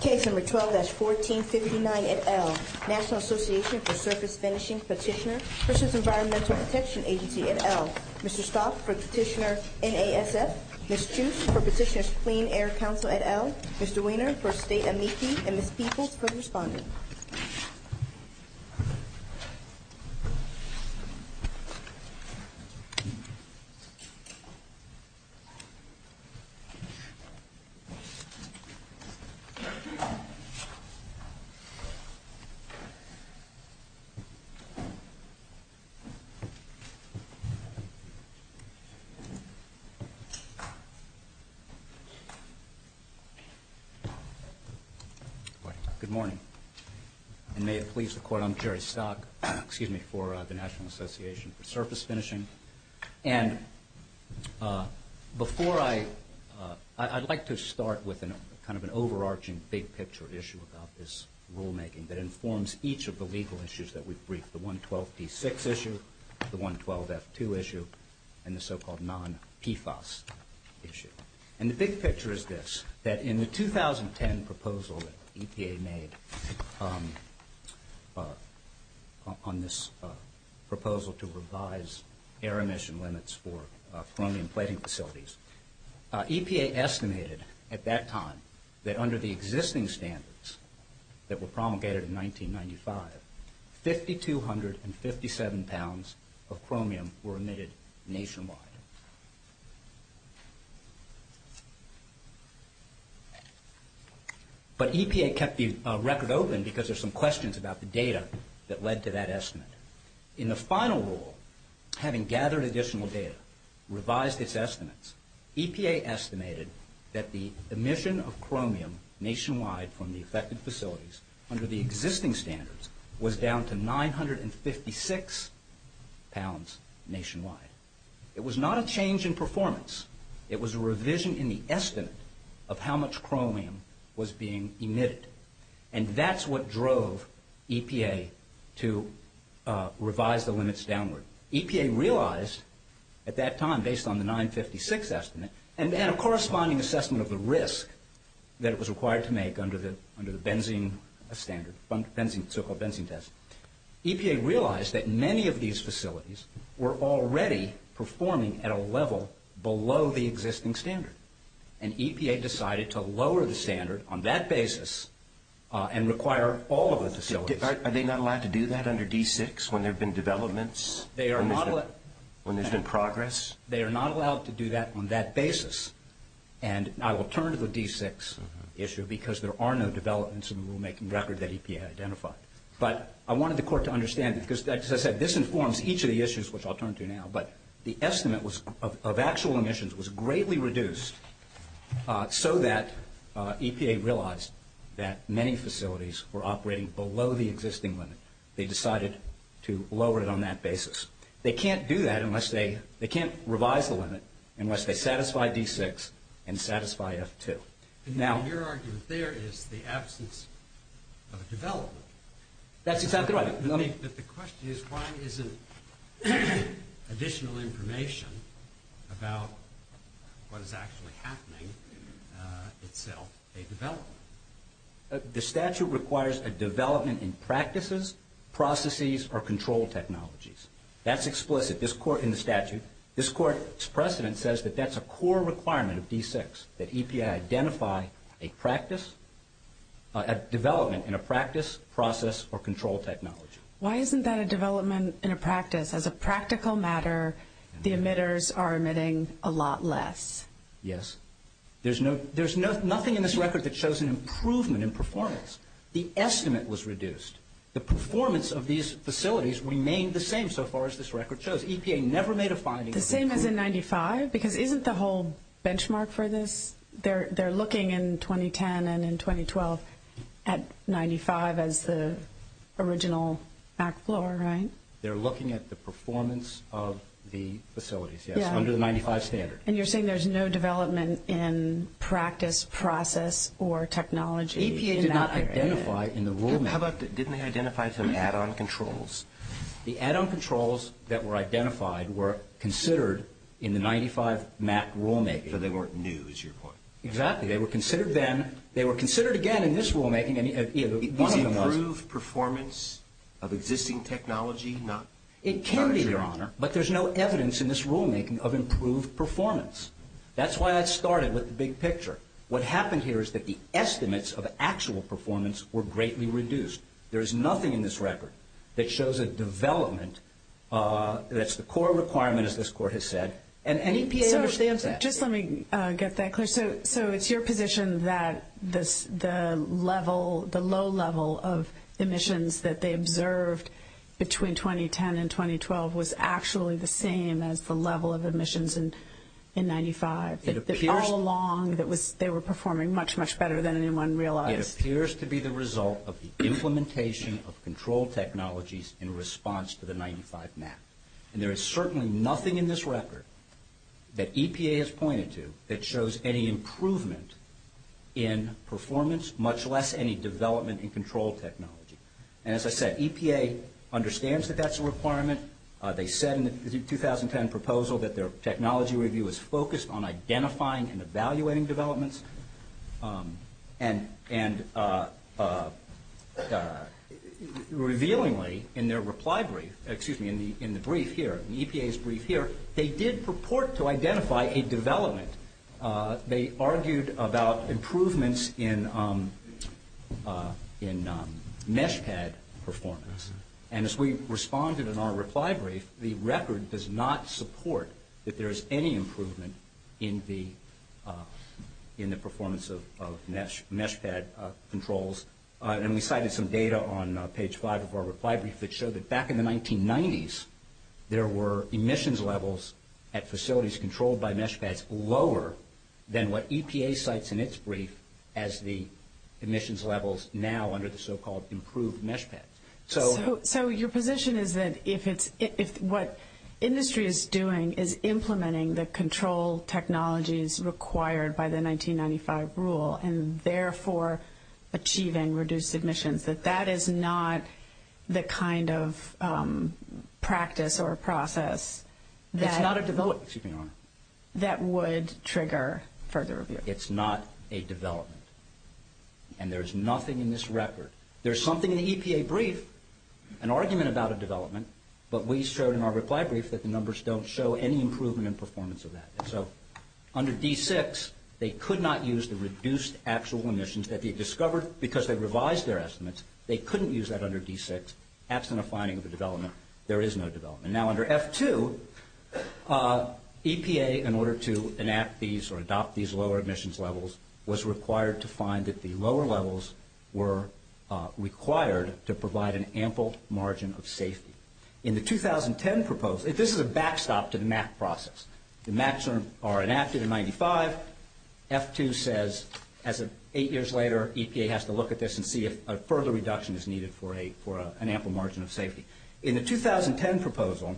K-12-1459 et al. National Association for Surface Finishing Petitioner v. Environmental Protection Agency et al. Mr. Salk for Petitioner AASF Ms. Chu for Petitioner's Clean Air Council et al. Mr. Weiner for State MEP Ms. Peoples for Respondent Good morning. I'm Jerry Salk for the National Association for Surface Finishing. And before I, I'd like to start with kind of an overarching big picture issue about this rulemaking that informs each of the legal issues that we've briefed. The 112-T6 issue, the 112-F2 issue, and the so-called non-PFAS issue. And the big picture is this, that in the 2010 proposal that EPA made on this proposal to revise air emission limits for chromium plating facilities, EPA estimated at that time that under the existing standards that were promulgated in 1995, 5,257 pounds of chromium were emitted nationwide. But EPA kept the record open because of some questions about the data that led to that estimate. In the final rule, having gathered additional data, revised its estimates, EPA estimated that the emission of chromium nationwide from the affected facilities under the existing standards was down to 956 pounds nationwide. It was not a change in performance. It was a revision in the estimate of how much chromium was being emitted. And that's what drove EPA to revise the limits downward. EPA realized at that time, based on the 956 estimate, and then a corresponding assessment of the risk that it was required to make under the benzene standard, so-called benzene test. EPA realized that many of these facilities were already performing at a level below the existing standard. And EPA decided to lower the standard on that basis and require all of the facilities. Are they not allowed to do that under D6 when there have been developments? When there's been progress? They are not allowed to do that on that basis. And I will turn to the D6 issue because there are no developments in the rulemaking record that EPA identified. But I wanted the court to understand because, as I said, this informs each of the issues, which I'll turn to now. But the estimate of actual emissions was greatly reduced so that EPA realized that many facilities were operating below the existing limit. They decided to lower it on that basis. They can't do that unless they – they can't revise the limit unless they satisfy D6 and satisfy F2. Now, your argument there is the absence of a development. That's exactly right. But the question is why isn't additional information about what is actually happening itself a development? The statute requires a development in practices, processes, or control technologies. That's explicit in the statute. And this court's precedent says that that's a core requirement of D6, that EPA identify a practice – a development in a practice, process, or control technology. Why isn't that a development in a practice? As a practical matter, the emitters are emitting a lot less. Yes. There's nothing in this record that shows an improvement in performance. The estimate was reduced. The performance of these facilities remained the same so far as this record shows. The same as in 95 because isn't the whole benchmark for this? They're looking in 2010 and in 2012 at 95 as the original back floor, right? They're looking at the performance of the facilities, yes, under the 95 standard. And you're saying there's no development in practice, process, or technology. EPA did not identify in the rule. Didn't they identify some add-on controls? The add-on controls that were identified were considered in the 95 MAC rulemaking. So they weren't new, is your point? Exactly. They were considered then. They were considered again in this rulemaking. Improved performance of existing technology? It can be, but there's no evidence in this rulemaking of improved performance. That's why I started with the big picture. What happens here is that the estimates of actual performance were greatly reduced. There is nothing in this record that shows a development. That's the core requirement, as this court has said. Just let me get that clear. So it's your position that the low level of emissions that they observed between 2010 and 2012 was actually the same as the level of emissions in 95. All along they were performing much, much better than anyone realized. It appears to be the result of the implementation of control technologies in response to the 95 MAC. There is certainly nothing in this record that EPA has pointed to that shows any improvement in performance, much less any development in control technology. As I said, EPA understands that that's a requirement. They said in the 2010 proposal that their technology review is focused on identifying and evaluating developments. And revealingly in their reply brief, excuse me, in the brief here, in EPA's brief here, they did purport to identify a development. They argued about improvements in mesh head performance. And as we responded in our reply brief, the record does not support that there is any improvement in the performance of mesh pad controls. And we cited some data on page 5 of our reply brief that showed that back in the 1990s, there were emissions levels at facilities controlled by mesh pads lower than what EPA cites in its brief as the emissions levels now under the so-called improved mesh pads. So your position is that if what industry is doing is implementing the control technologies required by the 1995 rule and therefore achieving reduced emissions, that that is not the kind of practice or process that would trigger further review? It's not a development. And there's nothing in this record. There's something in the EPA brief, an argument about a development, but we showed in our reply brief that the numbers don't show any improvement in performance of that. So under D6, they could not use the reduced actual emissions that they discovered because they revised their estimates. They couldn't use that under D6. That's not a finding of the development. There is no development. And now under F2, EPA, in order to enact these or adopt these lower emissions levels, was required to find that the lower levels were required to provide an ample margin of safety. In the 2010 proposal, this is a backstop to the MAP process. The MAPs are enacted in 95. F2 says as of eight years later, EPA has to look at this and see if a further reduction is needed for an ample margin of safety. In the 2010 proposal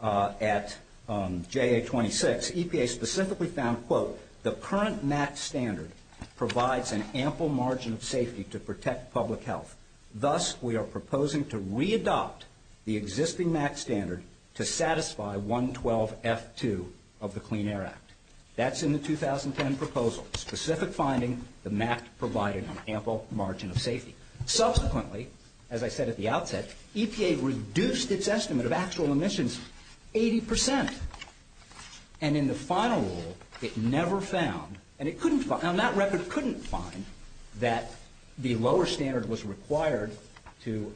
at JA26, EPA specifically found, quote, the current MAP standard provides an ample margin of safety to protect public health. Thus, we are proposing to re-adopt the existing MAP standard to satisfy 112F2 of the Clean Air Act. That's in the 2010 proposal, specific finding, the MAP provided an ample margin of safety. Subsequently, as I said at the outset, EPA reduced its estimate of actual emissions 80%. And in the final rule, it never found, and it couldn't find, on that record, couldn't find that the lower standard was required to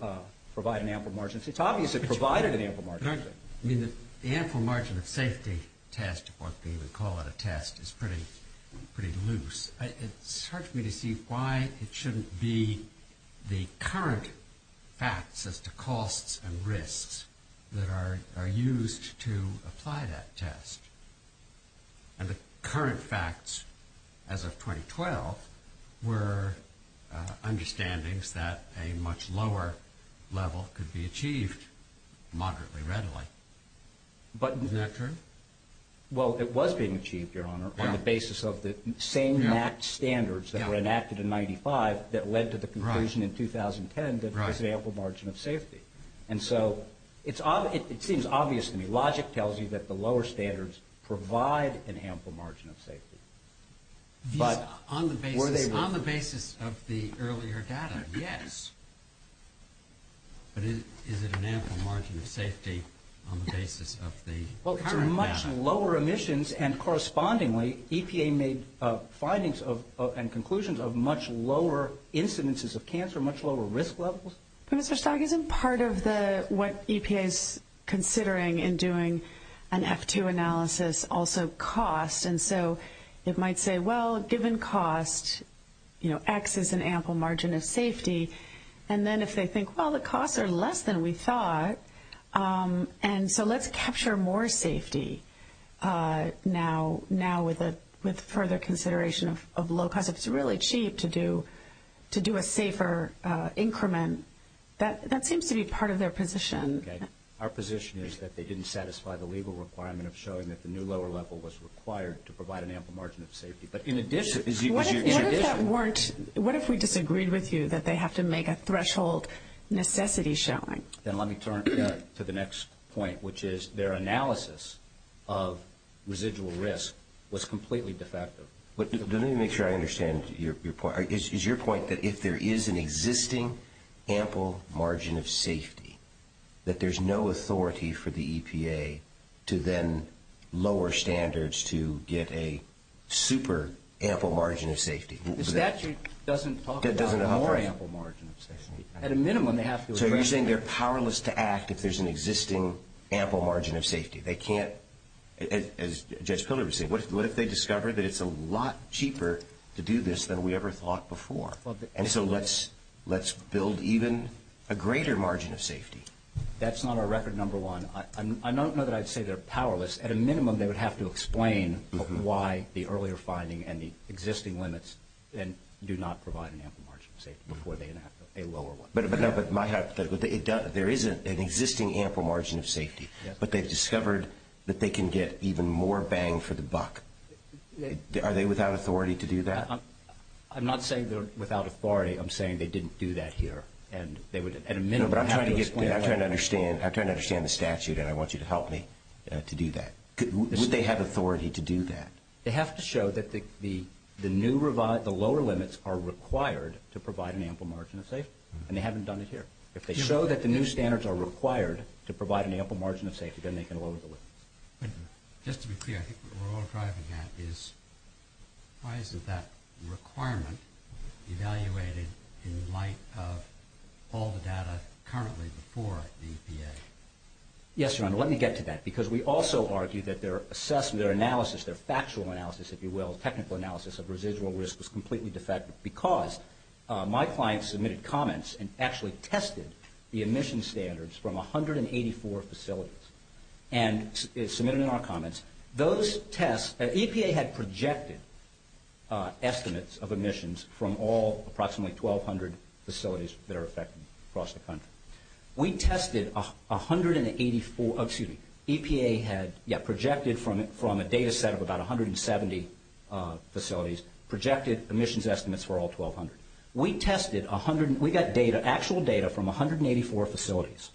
provide an ample margin. It's obvious it provided an ample margin. I mean, the ample margin of safety test, or they would call it a test, is pretty loose. It hurts me to see why it shouldn't be the current facts as to costs and risks that are used to apply that test. And the current facts as of 2012 were understandings that a much lower level could be achieved moderately readily. Is that true? Well, it was being achieved, Your Honor, on the basis of the same MAP standards that were enacted in 1995 that led to the conclusion in 2010 that there was an ample margin of safety. And so, it seems obvious to me. Logic tells you that the lower standards provide an ample margin of safety. On the basis of the earlier data, yes. But is it an ample margin of safety on the basis of the current facts? Well, for much lower emissions, and correspondingly, EPA made findings and conclusions of much lower incidences of cancer, much lower risk levels. Mr. Stock, isn't part of what EPA is considering in doing an F2 analysis also cost? And so, it might say, well, given cost, you know, X is an ample margin of safety. And then if they think, well, the costs are less than we thought, and so let's capture more safety now with further consideration of low cost. It's really cheap to do a safer increment. That seems to be part of their position. Our position is that they didn't satisfy the legal requirement of showing that the new lower level was required to provide an ample margin of safety. But in addition, as you can see in addition... What if that weren't? What if we disagreed with you that they have to make a threshold necessity showing? Then let me turn to the next point, which is their analysis of residual risk was completely defective. Let me make sure I understand your point. Is your point that if there is an existing ample margin of safety, that there's no authority for the EPA to then lower standards to get a super ample margin of safety? That doesn't talk about a more ample margin of safety. At a minimum, they have to... So you're saying they're powerless to act if there's an existing ample margin of safety. They can't... As Judge Pillar was saying, what if they discover that it's a lot cheaper to do this than we ever thought before? So let's build even a greater margin of safety. That's not our record number one. I don't know that I'd say they're powerless. At a minimum, they would have to explain why the earlier finding and the existing limits do not provide an ample margin of safety before they have to pay a lower one. There is an existing ample margin of safety. But they've discovered that they can get even more bang for the buck. Are they without authority to do that? I'm not saying they're without authority. I'm saying they didn't do that here. I'm trying to understand the statute, and I want you to help me to do that. Would they have authority to do that? They have to show that the lower limits are required to provide an ample margin of safety, and they haven't done it here. If they show that the new standards are required to provide an ample margin of safety, then they can lower the limits. Just to be clear, I think what we're all trying to get at is why isn't that requirement evaluated in the light of all the data currently before the EPA? Yes, Your Honor, let me get to that, because we also argue that their assessment, their analysis, their factual analysis, if you will, technical analysis of residual risk is completely defective because my client submitted comments and actually tested the emission standards from 184 facilities. Submitted in our comments, EPA had projected estimates of emissions from all approximately 1,200 facilities that are affected across the country. We tested 184 – excuse me, EPA had projected from a data set of about 170 facilities, projected emissions estimates for all 1,200. We tested – we got actual data from 184 facilities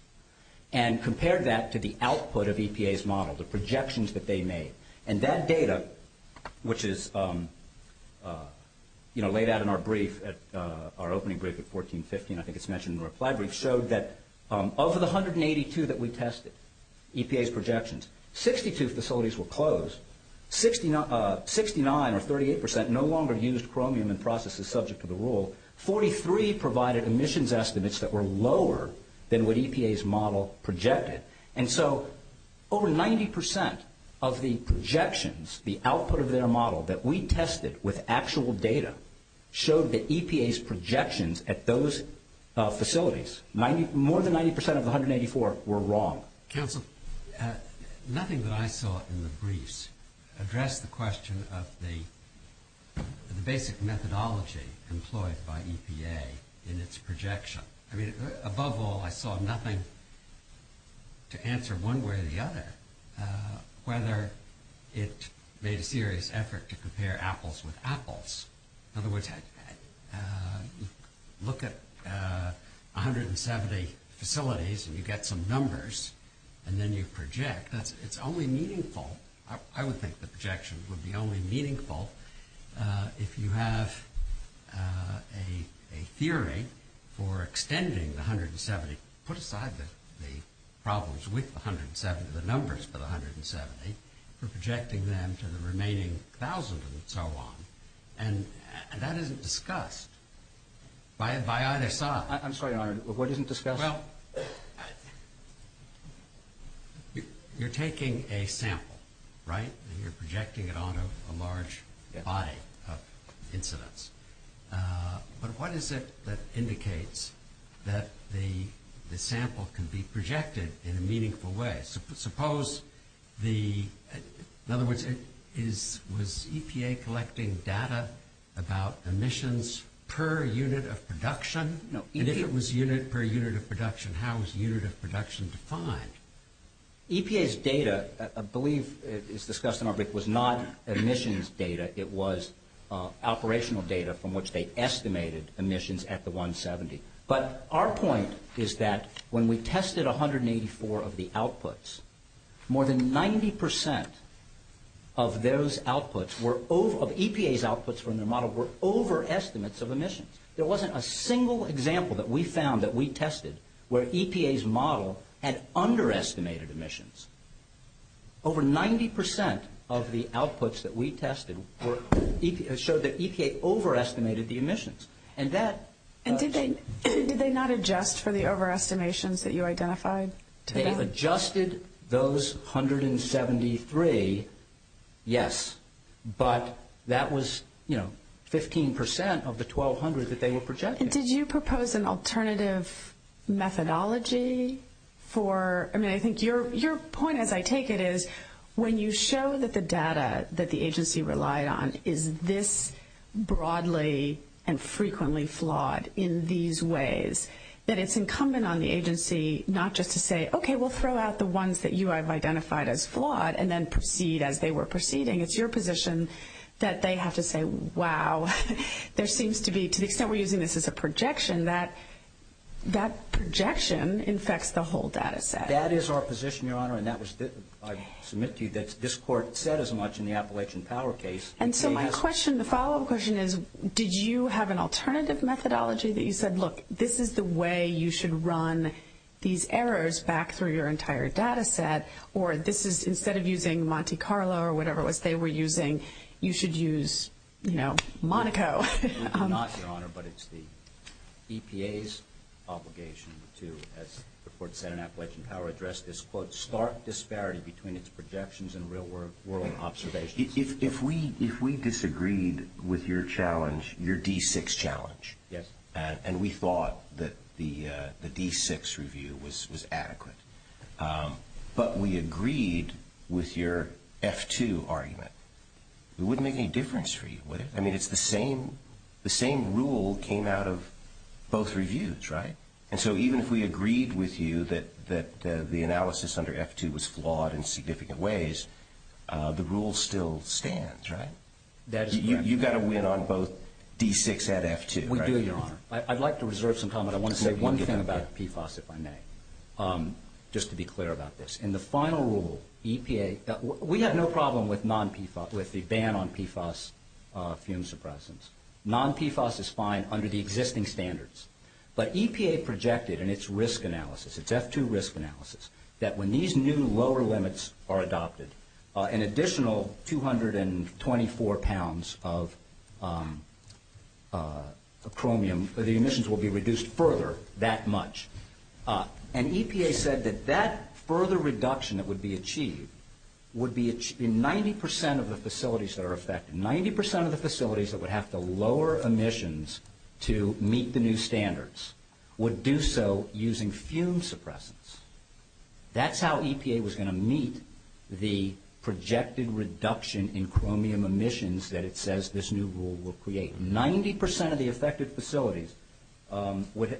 and compared that to the output of EPA's model, the projections that they made. That data, which is laid out in our brief, our opening brief at 1415, I think it's mentioned in the reply brief, showed that of the 182 that we tested, EPA's projections, 62 facilities were closed. Sixty-nine or 38% no longer used chromium in processes subject to the rule. Forty-three provided emissions estimates that were lower than what EPA's model projected. And so over 90% of the projections, the output of their model that we tested with actual data showed that EPA's projections at those facilities, more than 90% of 184 were wrong. Counsel, nothing that I saw in the briefs addressed the question of the basic methodology employed by EPA in its projection. I mean, above all, I saw nothing to answer one way or the other whether it made a serious effort to compare apples with apples. In other words, look at 170 facilities and you get some numbers and then you project. It's only meaningful – I would think the projections would be only meaningful if you have a theory for extending the 170 – put aside the problems with the 170, the numbers for the 170, for projecting them to the remaining thousands and so on. And that isn't discussed by either side. I'm sorry, Your Honor, what isn't discussed? Well, you're taking a sample, right, and you're projecting it onto a large body of incidents. But what is it that indicates that the sample can be projected in a meaningful way? Suppose the – in other words, was EPA collecting data about emissions per unit of production? If it was unit per unit of production, how is unit of production defined? EPA's data, I believe it's discussed in our brief, was not emissions data. It was operational data from which they estimated emissions at the 170. But our point is that when we tested 184 of the outputs, more than 90% of those outputs were – of EPA's outputs from their model were overestimates of emissions. There wasn't a single example that we found that we tested where EPA's model had underestimated emissions. Over 90% of the outputs that we tested were – showed that EPA overestimated the emissions. And that – And did they not adjust for the overestimations that you identified? They adjusted those 173, yes. But that was, you know, 15% of the 1,200 that they were projecting. Did you propose an alternative methodology for – I mean, I think your point, as I take it, is when you show that the data that the agency relied on is this broadly and frequently flawed in these ways, that it's incumbent on the agency not just to say, okay, we'll throw out the ones that you have identified as flawed and then proceed as they were proceeding. It's your position that they have to say, wow, there seems to be – to the extent we're using this as a projection, that projection infects the whole data set. That is our position, Your Honor, and that was – I submit to you that this court said as much in the Appalachian Power case. And so my question – the follow-up question is, did you have an alternative methodology that you said, look, this is the way you should run these errors back through your entire data set, or this is – instead of using Monte Carlo or whatever it was they were using, you should use, you know, Monaco. It's not, Your Honor, but it's the EPA's obligation to, as the court said in Appalachian Power, address this, quote, stark disparity between its projections and real-world observations. If we disagreed with your challenge, your D6 challenge, and we thought that the D6 review was adequate, but we agreed with your F2 argument, it wouldn't make any difference for you. I mean, it's the same – the same rule came out of both reviews, right? And so even if we agreed with you that the analysis under F2 was flawed in significant ways, the rule still stands, right? You've got to win on both D6 and F2, right? We do, Your Honor. I'd like to reserve some time, but I want to say one thing about PFAS, if I may, just to be clear about this. In the final rule, EPA – we have no problem with non-PFAS, with the ban on PFAS fume suppressants. Non-PFAS is fine under the existing standards, but EPA projected in its risk analysis, its F2 risk analysis, that when these new lower limits are adopted, an additional 224 pounds of chromium, the emissions will be reduced further that much. And EPA said that that further reduction that would be achieved would be in 90% of the facilities that are affected. Ninety percent of the facilities that would have to lower emissions to meet the new standards would do so using fume suppressants. That's how EPA was going to meet the projected reduction in chromium emissions that it says this new rule will create. Ninety percent of the affected facilities –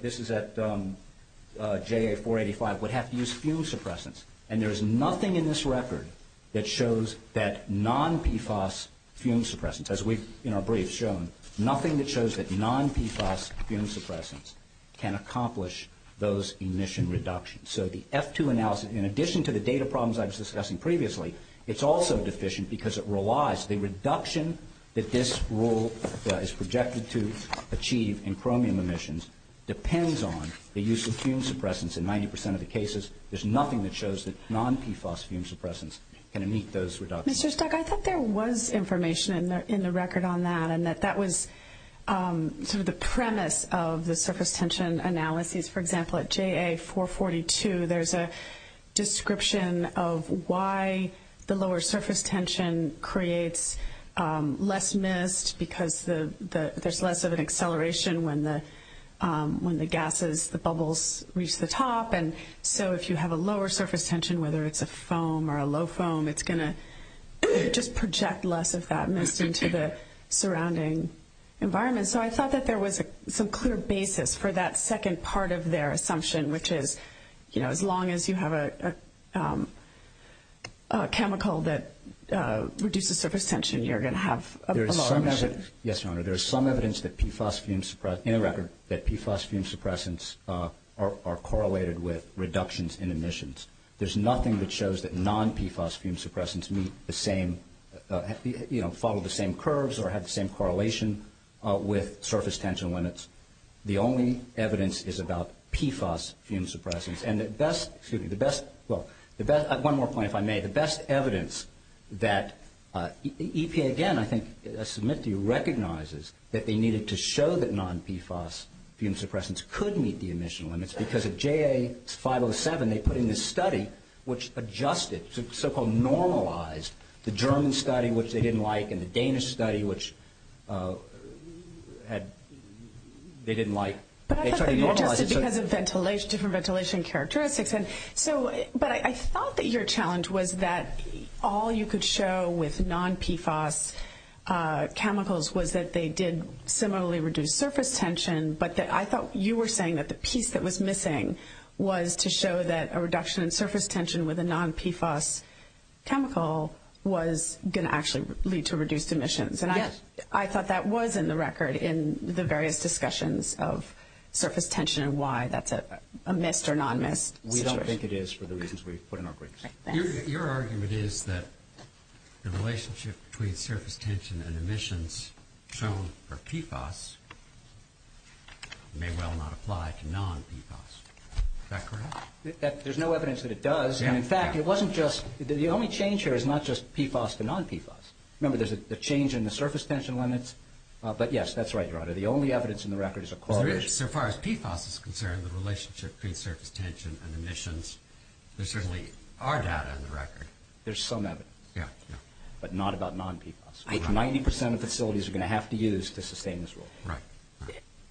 this is at JA485 – would have to use fume suppressants. And there is nothing in this record that shows that non-PFAS fume suppressants, as we've in our brief shown, nothing that shows that non-PFAS fume suppressants can accomplish those emission reductions. So the F2 analysis, in addition to the data problems I was discussing previously, it's also deficient because it relies – the reduction that this rule is projected to achieve in chromium emissions depends on the use of fume suppressants. In 90% of the cases, there's nothing that shows that non-PFAS fume suppressants can meet those reductions. Mr. Stuck, I thought there was information in the record on that and that that was sort of the premise of the surface tension analysis. For example, at JA442, there's a description of why the lower surface tension creates less mist because there's less of an acceleration when the gases, the bubbles, reach the top. And so if you have a lower surface tension, whether it's a foam or a low foam, it's going to just project less of that mist into the surrounding environment. And so I thought that there was some clear basis for that second part of their assumption, which is as long as you have a chemical that reduces surface tension, you're going to have a lot of evidence. Yes, Your Honor. There's some evidence that PFAS fume suppressants – in the record – that PFAS fume suppressants are correlated with reductions in emissions. There's nothing that shows that non-PFAS fume suppressants meet the same – surface tension limits. The only evidence is about PFAS fume suppressants. And the best – excuse me. The best – well, one more point if I may. The best evidence that EPA, again, I think I submit to you, recognizes that they needed to show that non-PFAS fume suppressants could meet the emission limits because at JA507, they put in this study which adjusted, so-called normalized, the German study, which they didn't like, and the Danish study, which they didn't like. But that's because of ventilation, different ventilation characteristics. But I thought that your challenge was that all you could show with non-PFAS chemicals was that they did similarly reduce surface tension, but that I thought you were saying that the piece that was missing was to show that a reduction in surface tension with a non-PFAS chemical was going to actually lead to reduced emissions. And I thought that was in the record in the various discussions of surface tension and why that's a missed or non-missed. We don't think it is for the reasons we've put in our briefs. Your argument is that the relationship between surface tension and emissions shown for PFAS may well not apply to non-PFAS. Is that correct? There's no evidence that it does. In fact, the only change here is not just PFAS to non-PFAS. Remember, there's a change in the surface tension limits. But yes, that's right. The only evidence in the record is a correlation. As far as PFAS is concerned, the relationship between surface tension and emissions, there certainly are data in the record. There's some evidence, but not about non-PFAS. Ninety percent of facilities are going to have to use to sustain this rule. Right.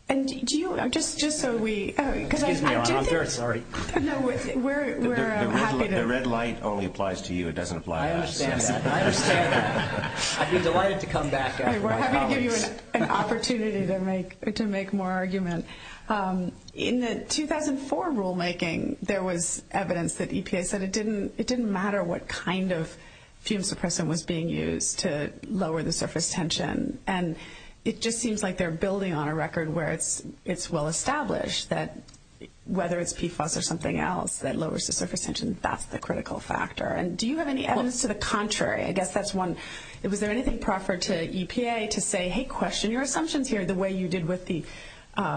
Excuse me, I'm very sorry. The red line only applies to you. It doesn't apply to us. I understand that. I understand that. I'd be delighted to come back. We're having an opportunity to make more arguments. In the 2004 rulemaking, there was evidence that EPA said it didn't matter what kind of fume suppression was being used to lower the surface tension. It just seems like they're building on a record where it's well established that whether it's PFAS or something else that lowers the surface tension, that's the critical factor. Do you have any evidence to the contrary? I guess that's one. Was there anything proper to EPA to say, hey, question your assumptions here the way you did with the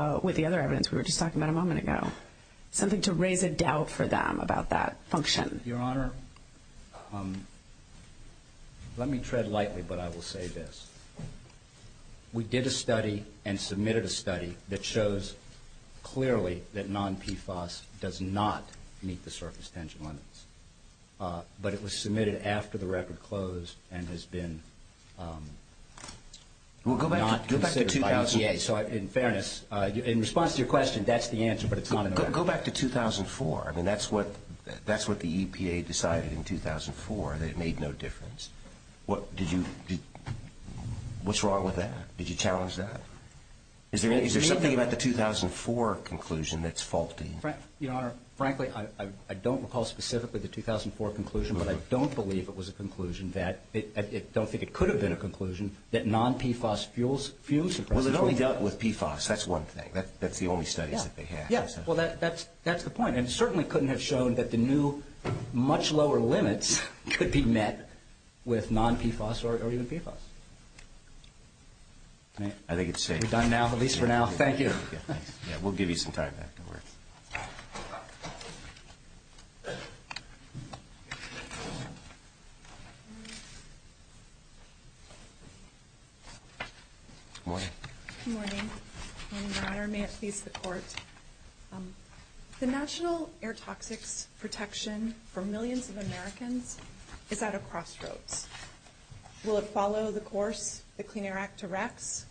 other evidence we were just talking about a moment ago, something to raise a doubt for them about that function? Your Honor, let me tread lightly, but I will say this. We did a study and submitted a study that shows clearly that non-PFAS does not meet the surface tension limits, but it was submitted after the record closed and has been not considered by EPA. In fairness, in response to your question, that's the answer, but it's not enough. Go back to 2004. I mean, that's what the EPA decided in 2004, that it made no difference. What's wrong with that? Did you challenge that? Is there something about the 2004 conclusion that's faulty? Your Honor, frankly, I don't recall specifically the 2004 conclusion, but I don't believe it was a conclusion that – I don't think it could have been a conclusion – that non-PFAS fuels suppression. Well, it only dealt with PFAS. That's one thing. That's the only study that they had. Yes. Well, that's the point. It certainly couldn't have shown that the new, much lower limits could be met with non-PFAS or even PFAS. I think it's safe. We're done now, at least for now. Thank you. We'll give you some time. Good morning. Good morning. Your Honor, may it please the Court, the National Air Toxics Protection for millions of Americans is at a crossroads. Will it follow the course the Clean Air Act directs,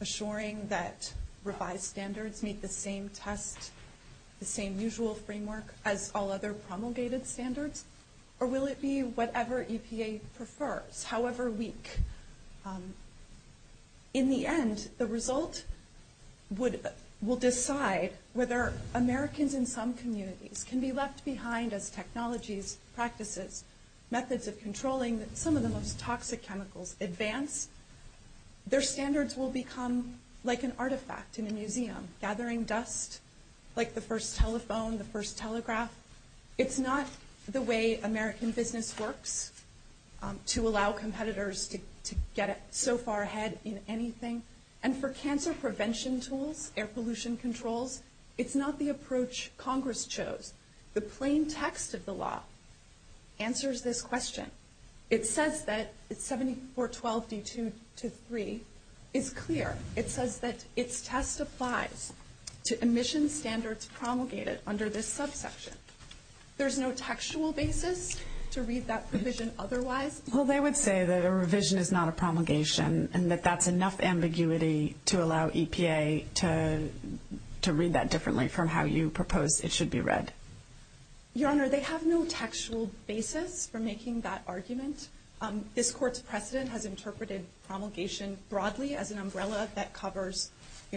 assuring that revised standards meet the same tests, the same usual framework as all other promulgated standards, or will it be whatever EPAs prefer, however weak? In the end, the result will decide whether Americans in some communities can be left behind as technologies, practices, methods of controlling some of the most toxic chemicals advance. Their standards will become like an artifact in a museum, gathering dust like the first telephone, the first telegraph. It's not the way American business works to allow competitors to get so far ahead in anything. And for cancer prevention tools, air pollution controls, it's not the approach Congress chose. The plain text of the law answers this question. It says that 7412C223 is clear. It says that its test applies to emissions standards promulgated under this subsection. There is no textual basis to read that provision otherwise. Well, they would say that a revision is not a promulgation and that that's enough ambiguity to allow EPA to read that differently from how you propose it should be read. Your Honor, they have no textual basis for making that argument. This Court's precedent has interpreted promulgation broadly as an umbrella that covers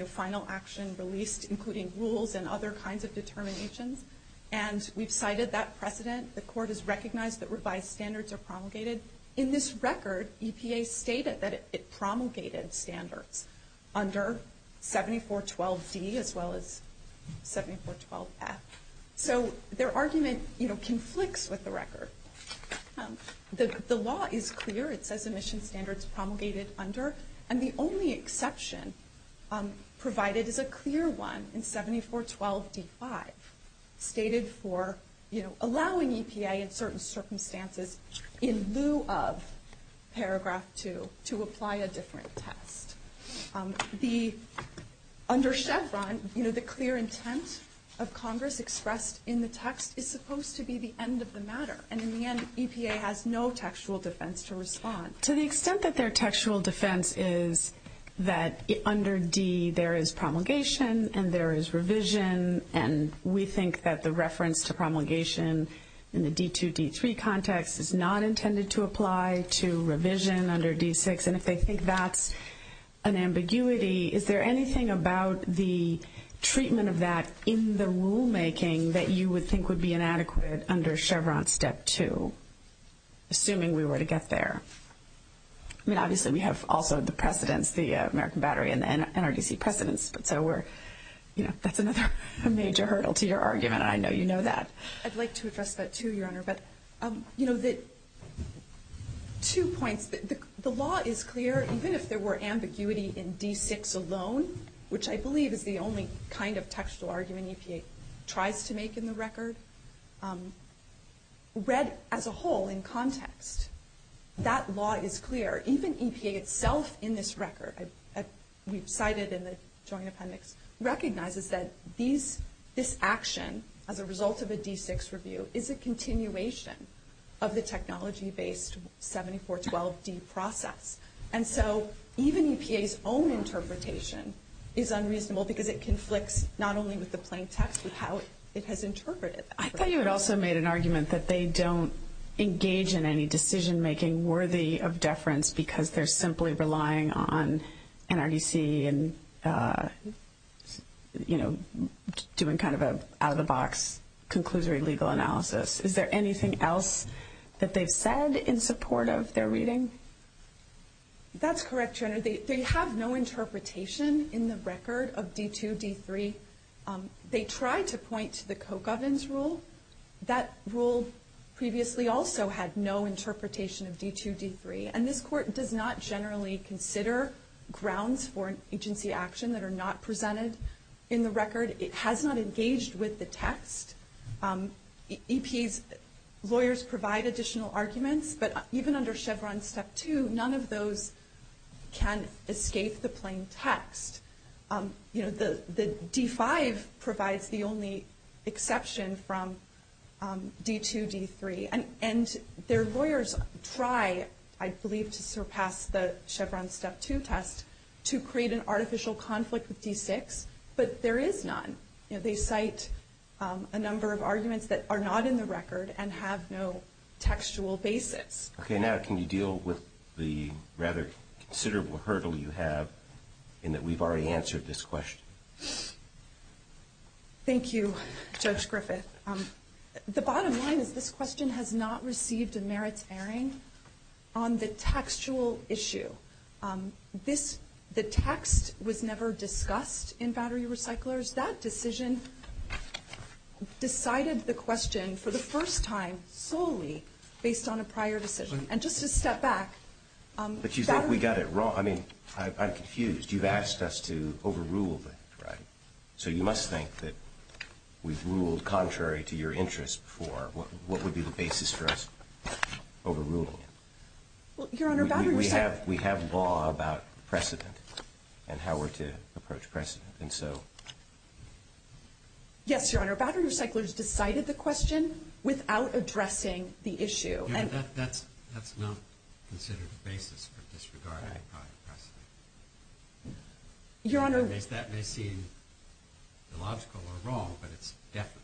final action released, including rules and other kinds of determinations. And we've cited that precedent. The Court has recognized that revised standards are promulgated. In this record, EPA stated that it promulgated standards under 7412C as well as 7412F. So their argument conflicts with the record. The law is clear. It says emissions standards promulgated under. And the only exception provided is a clear one in 7412B5 stated for, you know, allowing EPA in certain circumstances in lieu of Paragraph 2 to apply a different test. Under Chevron, you know, the clear intent of Congress expressed in the text is supposed to be the end of the matter. And in the end, EPA has no textual defense to respond. To the extent that their textual defense is that under D there is promulgation and there is revision, and we think that the reference to promulgation in the D2-D3 context is not intended to apply to revision under D6. And if they think that's an ambiguity, is there anything about the treatment of that in the rulemaking that you would think would be inadequate under Chevron Step 2, assuming we were to get there? I mean, obviously, we have also the precedents, the American Battery and NRDC precedents. But there were, you know, that's another major hurdle to your argument. I know you know that. But, you know, two points. The law is clear, even if there were ambiguity in D6 alone, which I believe is the only kind of textual argument EPA tries to make in the record, read as a whole in context. That law is clear. Even EPA itself in this record, as we've cited in this joint appendix, recognizes that this action as a result of a D6 review is a continuation of the technology-based 7412-D process. And so even EPA's own interpretation is unreasonable because it conflicts not only with the plain text, but how it has interpreted it. I thought you had also made an argument that they don't engage in any decision-making worthy of deference because they're simply relying on NRDC and, you know, doing kind of an out-of-the-box conclusory legal analysis. Is there anything else that they said in support of their reading? That's correct, Jen. They have no interpretation in the record of D2, D3. They tried to point to the Coke ovens rule. That rule previously also had no interpretation of D2, D3. And this court does not generally consider grounds for agency action that are not presented in the record. It has not engaged with the text. EPA's lawyers provide additional arguments, but even under Chevron Step 2, none of those can escape the plain text. You know, the D5 provides the only exception from D2, D3. And their lawyers try, I believe, to surpass the Chevron Step 2 test to create an artificial conflict with D6, but there is none. They cite a number of arguments that are not in the record and have no textual basis. Okay, now can you deal with the rather considerable hurdle you have in that we've already answered this question? Thank you, Judge Griffith. The bottom line is this question has not received a merit hearing on the textual issue. The text was never discussed in Battery Recyclers. That decision decided the question for the first time solely based on a prior decision. And just to step back... But you think we got it wrong. I mean, I'm confused. You've asked us to overrule it, right? So you must think that we've ruled contrary to your interest for what would be the basis for us overruling it. Your Honor, Battery Recyclers... We have law about precedent and how we're to approach precedent. I think so. Yes, Your Honor. Battery Recyclers decided the question without addressing the issue. That's not considered the basis for disregarding a prior precedent. Your Honor... That may seem illogical or wrong, but it's definitely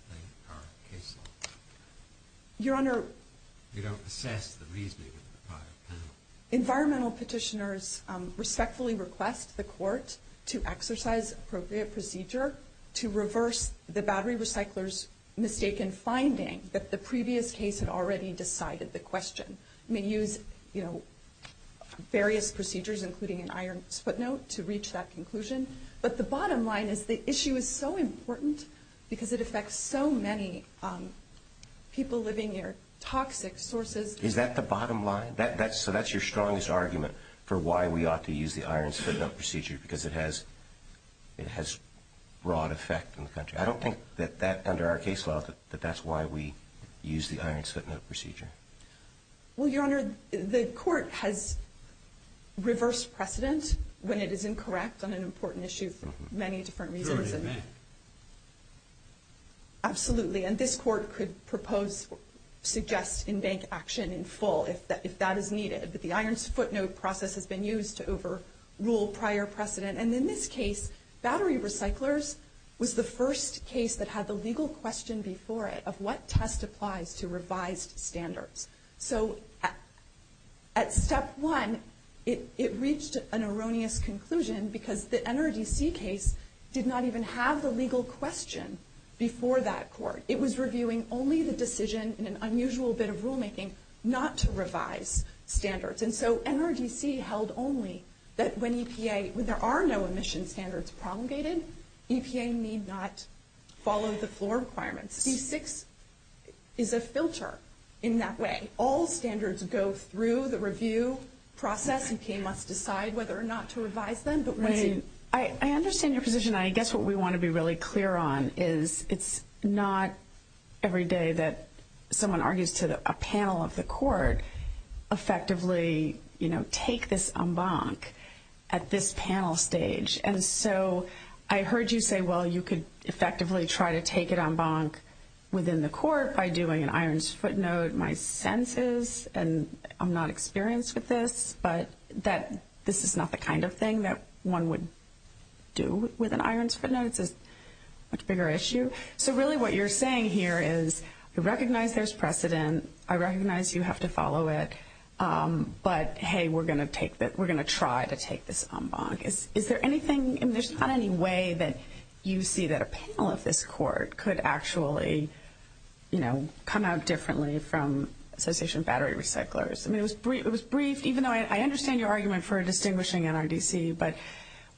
our case law. Your Honor... You don't assess the reasoning of the prior precedent. Environmental petitioners respectfully request the court to exercise appropriate procedure to reverse the Battery Recyclers' mistaken finding that the previous case had already decided the question. We used various procedures, including an iron footnote, to reach that conclusion. But the bottom line is the issue is so important because it affects so many people living near toxic sources. Is that the bottom line? So that's your strongest argument for why we ought to use the iron footnote procedure because it has broad effect in the country. I don't think that under our case law that that's why we use the iron footnote procedure. Well, Your Honor, the court has reversed precedent when it is incorrect on an important issue for many different reasons. Absolutely, and this court could propose, suggest in bank action in full if that is needed, that the iron footnote process has been used to overrule prior precedent. And in this case, Battery Recyclers was the first case that had the legal question before it of what test applies to revised standards. So at step one, it reached an erroneous conclusion because the NRDC case did not even have the legal question before that court. It was reviewing only the decision in an unusual bit of rulemaking not to revise standards. And so NRDC held only that when EPA, when there are no emission standards promulgated, EPA need not follow the floor requirements. C6 is a filter in that way. All standards go through the review process and EPA must decide whether or not to revise them. I understand your position. I guess what we want to be really clear on is it's not every day that someone argues to a panel of the court effectively, you know, take this en banc at this panel stage. And so I heard you say, well, you could effectively try to take it en banc within the court by doing an iron footnote. My sense is, and I'm not experienced with this, but that this is not the kind of thing that one would do with an iron footnote. It's a much bigger issue. So really what you're saying here is I recognize there's precedent. I recognize you have to follow it. But, hey, we're going to try to take this en banc. Is there anything, I mean, there's not any way that you see that a panel of this court could actually, you know, come out differently from association of battery recyclers. I mean, it was brief, even though I understand your argument for distinguishing NRDC, but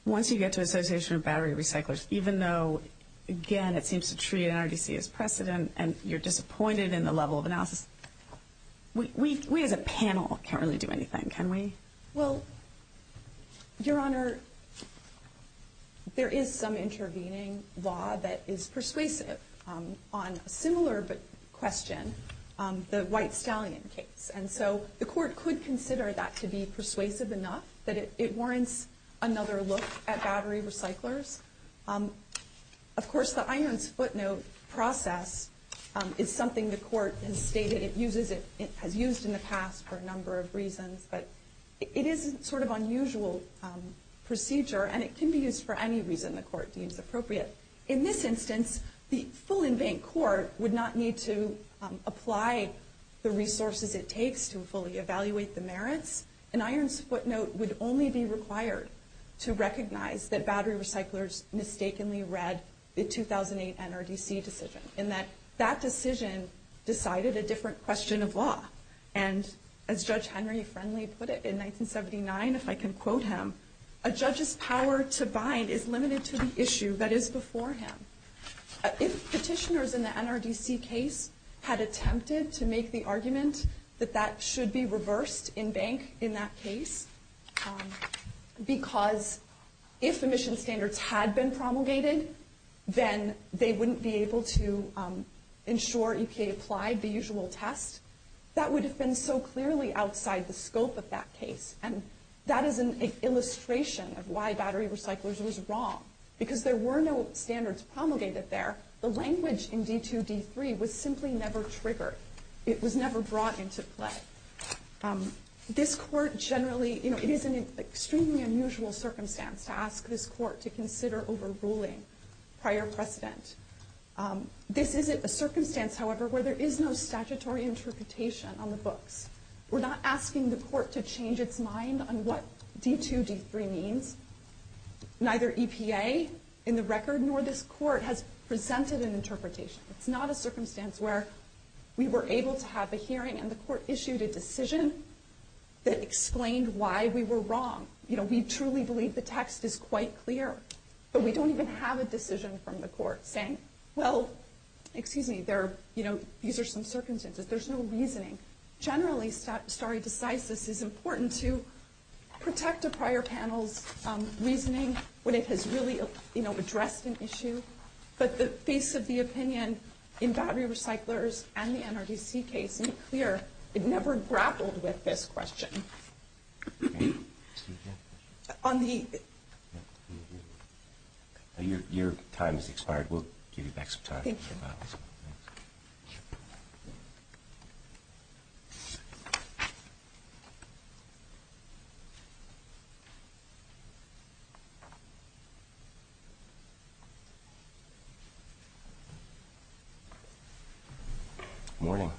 once you get to association of battery recyclers, even though, again, it seems to treat NRDC as precedent and you're disappointed in the level of analysis, we as a panel can't really do anything, can we? Well, Your Honor, there is some intervening law that is persuasive on a similar question, the white stallion case. And so the court could consider that to be persuasive enough that it warrants another look at battery recyclers. Of course, the iron footnote process is something the court has stated it uses it, has used in the past for a number of reasons, but it is sort of unusual procedure and it can be used for any reason the court deems appropriate. In this instance, the full en banc court would not need to apply the resources it takes to fully evaluate the merits. An iron footnote would only be required to recognize that battery recyclers mistakenly read the 2008 NRDC decision in that that decision decided a different question of law. And as Judge Henry Friendly put it in 1979, if I can quote him, a judge's power to bind is limited to the issue that is before him. If petitioners in the NRDC case had attempted to make the argument that that should be reversed en banc in that case, because if emission standards had been promulgated, then they wouldn't be able to ensure EPA applied the usual test, that would have been so clearly outside the scope of that case. And that is an illustration of why battery recyclers was wrong, because there were no standards promulgated there. The language in D2-D3 was simply never triggered. It was never brought into play. This court generally, you know, it is an extremely unusual circumstance to ask this court to consider overruling prior precedent. This is a circumstance, however, where there is no statutory interpretation on the books. We're not asking the court to change its mind on what D2-D3 means. Neither EPA in the record nor this court has presented an interpretation. It's not a circumstance where we were able to have a hearing and the court issued a decision that explained why we were wrong. You know, we truly believe the text is quite clear, but we don't even have a decision from the court saying, well, excuse me, there are, you know, these are some circumstances. There's no reasoning. Generally, sorry, disguises is important to protect a prior panel's reasoning when it has really, you know, addressed an issue. But the space of the opinion in battery recyclers and the NRDC case is clear. It never grappled with this question. Your time has expired. We'll give you back some time. Thank you. Morning.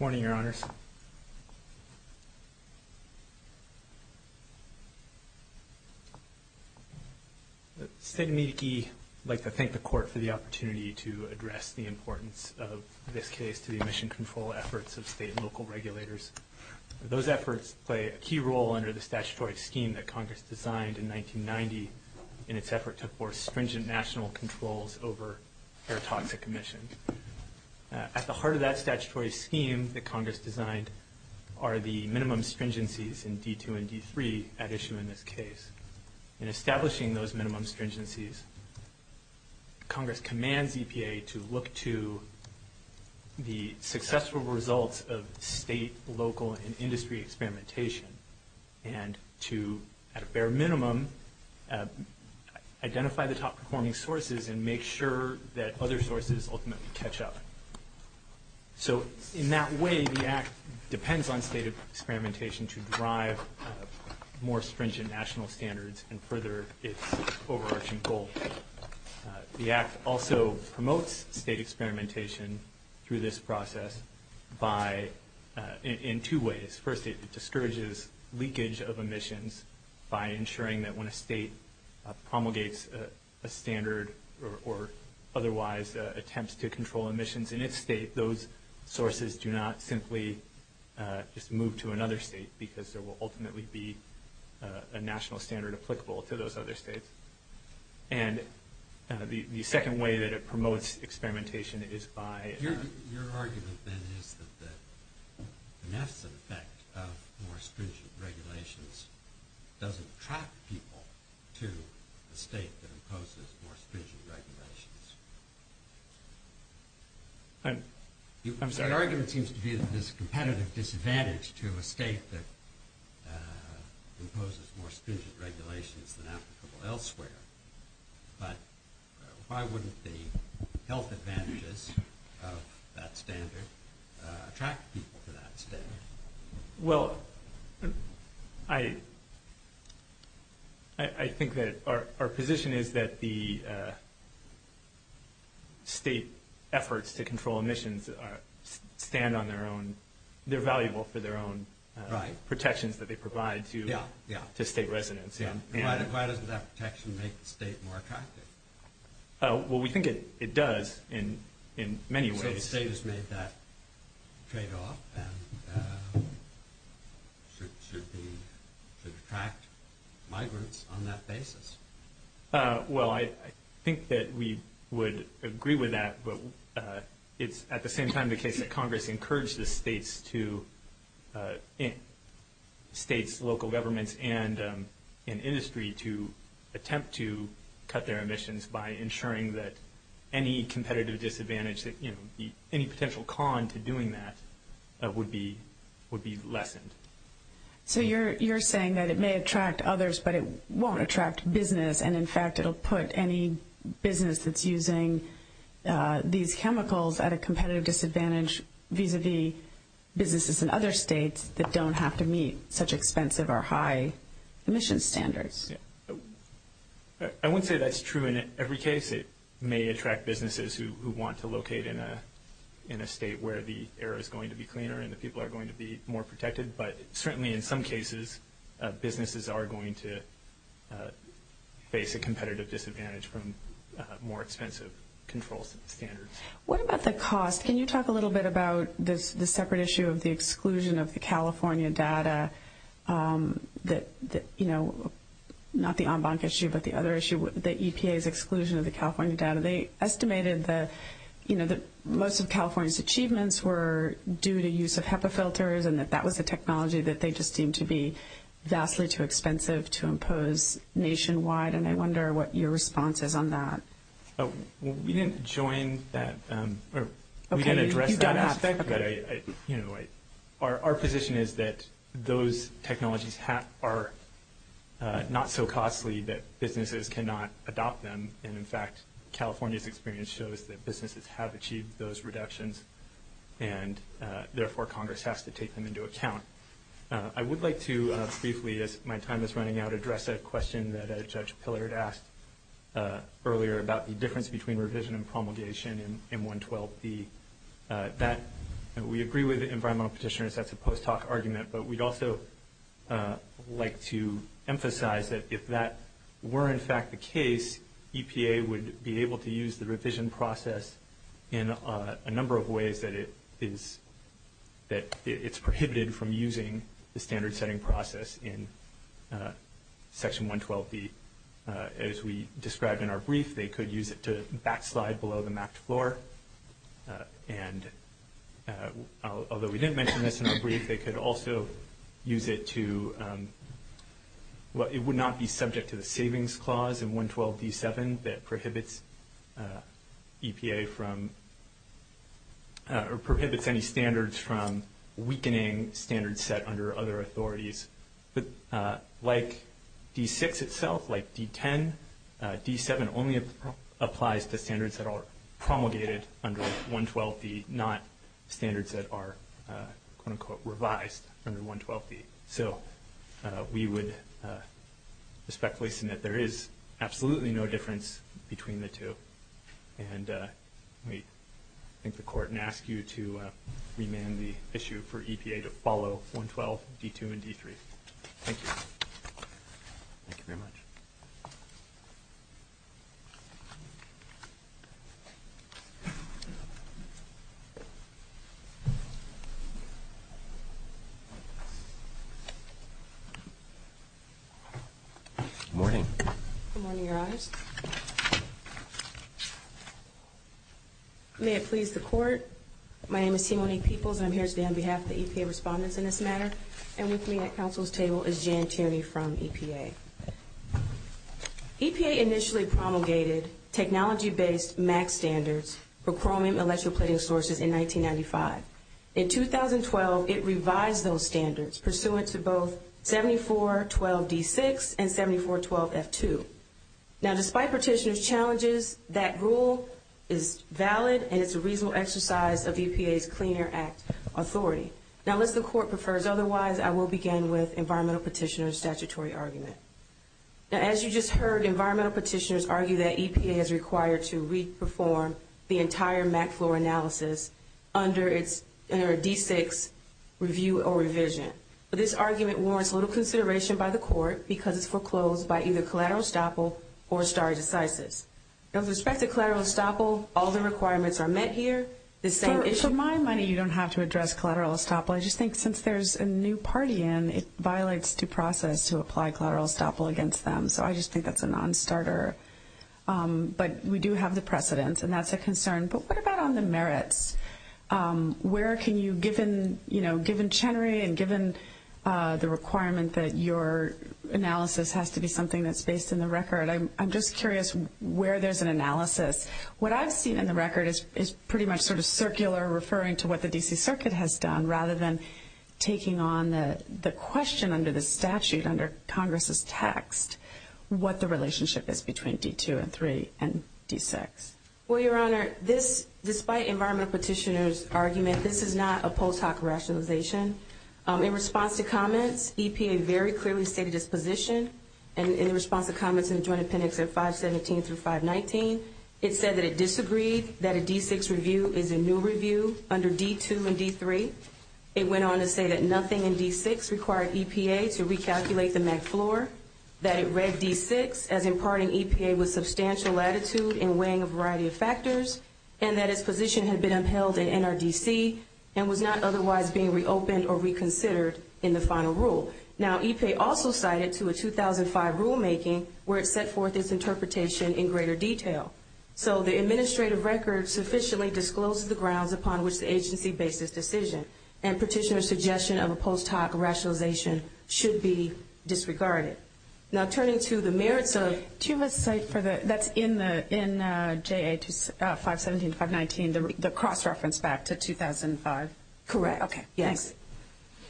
Morning, Your Honors. I'd like to thank the court for the opportunity to address the importance of this case to the emission control efforts of state and local regulators. Those efforts play a key role under the statutory scheme that Congress designed in 1990 in its efforts to enforce stringent national controls over air toxic emissions. At the heart of that statutory scheme that Congress designed are the minimum stringencies in D2 and D3 at issue in this case. In establishing those minimum stringencies, Congress commands EPA to look to the successful results of state, local, and industry experimentation and to, at a bare minimum, identify the top performing sources and make sure that other sources ultimately catch up. So in that way, the Act depends on state experimentation to drive more stringent national standards and further its overarching goal. The Act also promotes state experimentation through this process by – in two ways. First, it discourages leakage of emissions by ensuring that when a state promulgates a standard or otherwise attempts to control emissions in its state, those sources do not simply move to another state because there will ultimately be a national standard applicable to those other states. And the second way that it promotes experimentation is by – Your argument then is that the massive effect of more stringent regulations doesn't trap people to a state that imposes more stringent regulations. I'm sorry. Your argument seems to be that there's a competitive disadvantage to a state that imposes more stringent regulations than applicable elsewhere. But why wouldn't the health advantages of that standard attract people to that state? Well, I think that our position is that the state efforts to control emissions stand on their own – they're valuable for their own protections that they provide to state residents. Yeah, yeah. Why doesn't that protection make the state more attractive? Well, we think it does in many ways. Okay, the state has made that trade-off and should be – should attract migrants on that basis. Well, I think that we would agree with that, but it's at the same time the case that Congress encourages states to – any potential con to doing that would be lessened. So you're saying that it may attract others, but it won't attract business. And, in fact, it'll put any business that's using these chemicals at a competitive disadvantage vis-à-vis businesses in other states that don't have to meet such expensive or high emission standards. I wouldn't say that's true in every case. It may attract businesses who want to locate in a state where the air is going to be cleaner and the people are going to be more protected. But certainly in some cases, businesses are going to face a competitive disadvantage from more expensive control standards. What about the cost? Can you talk a little bit about the separate issue of the exclusion of the California data that – you know, not the en banc issue, but the other issue with the EPA's exclusion of the California data? They estimated that, you know, most of California's achievements were due to use of HEPA filters and that that was a technology that they just seemed to be vastly too expensive to impose nationwide. And I wonder what your response is on that. Well, we didn't join that. Okay. You don't have to. But, you know, our position is that those technologies are not so costly that businesses cannot adopt them. And, in fact, California's experience shows that businesses have achieved those reductions. And, therefore, Congress has to take them into account. I would like to briefly, as my time is running out, address a question that Judge Pillard asked earlier about the difference between revision and promulgation in 112B. That – we agree with environmental petitioners. That's a post hoc argument. But we'd also like to emphasize that if that were, in fact, the case, EPA would be able to use the revision process in a number of ways that it is – that it's prohibited from using the standard setting process in Section 112B. As we described in our brief, they could use it to backslide below the mapped floor. And although we didn't mention this in the brief, they could also use it to – well, it would not be subject to the savings clause in 112B7 that prohibits EPA from – or prohibits any standards from weakening standards set under other authorities. Like D6 itself, like D10, D7 only applies to standards that are promulgated under 112B, not standards that are, quote-unquote, revised under 112B. So we would respectfully submit there is absolutely no difference between the two. And we take the court and ask you to remand the issue for EPA to follow 112, D2, and D3. Thank you. Thank you very much. Good morning. Good morning, Your Honor. May it please the Court, my name is Timoni Peoples. I'm here today on behalf of the EPA respondents in this matter. And with me at counsel's table is Jan Tierney from EPA. EPA initially promulgated technology-based MAC standards for chromium electroplating sources in 1995. In 2012, it revised those standards pursuant to both 7412D6 and 7412F2. Now, despite petitioner's challenges, that rule is valid and it's a reasonable exercise of EPA's Clean Air Act authority. Now, unless the Court prefers otherwise, I will begin with environmental petitioner's statutory argument. As you just heard, environmental petitioners argue that EPA is required to re-perform the entire MAC floor analysis under D6 review or revision. This argument warrants a little consideration by the Court because it's foreclosed by either collateral estoppel or stare decisis. With respect to collateral estoppel, all the requirements are met here. In my mind, you don't have to address collateral estoppel. I just think since there's a new party in, it violates due process to apply collateral estoppel against them. So I just think that's a non-starter. But we do have the precedence and that's a concern. But what about on the merits? Where can you, given Chenery and given the requirement that your analysis has to be something that's based in the record, I'm just curious where there's an analysis. What I've seen in the record is pretty much sort of circular, referring to what the D.C. Circuit has done, rather than taking on the question under the statute, under Congress's text, what the relationship is between D2 and 3 and D6. Well, Your Honor, this, despite Environmental Petitioner's argument, this is not a post hoc rationalization. In response to comments, EPA very clearly stated its position. And in response to comments in Joint Appendix 517-519, it said that it disagreed that a D6 review is a new review under D2 and D3. It went on to say that nothing in D6 required EPA to recalculate the MAC floor, that it read D6 as imparting EPA with substantial latitude in weighing a variety of factors, and that its position had been upheld in NRDC and was not otherwise being reopened or reconsidered in the final rule. Now, EPA also cited to a 2005 rulemaking where it set forth its interpretation in greater detail. So the administrative record sufficiently discloses the grounds upon which the agency based its decision. And Petitioner's suggestion of a post hoc rationalization should be disregarded. Now, turning to the merits of – Can you list the sites for the – that's in the – in JA 517-519, the cross-reference back to 2005. Correct. Okay. Thanks.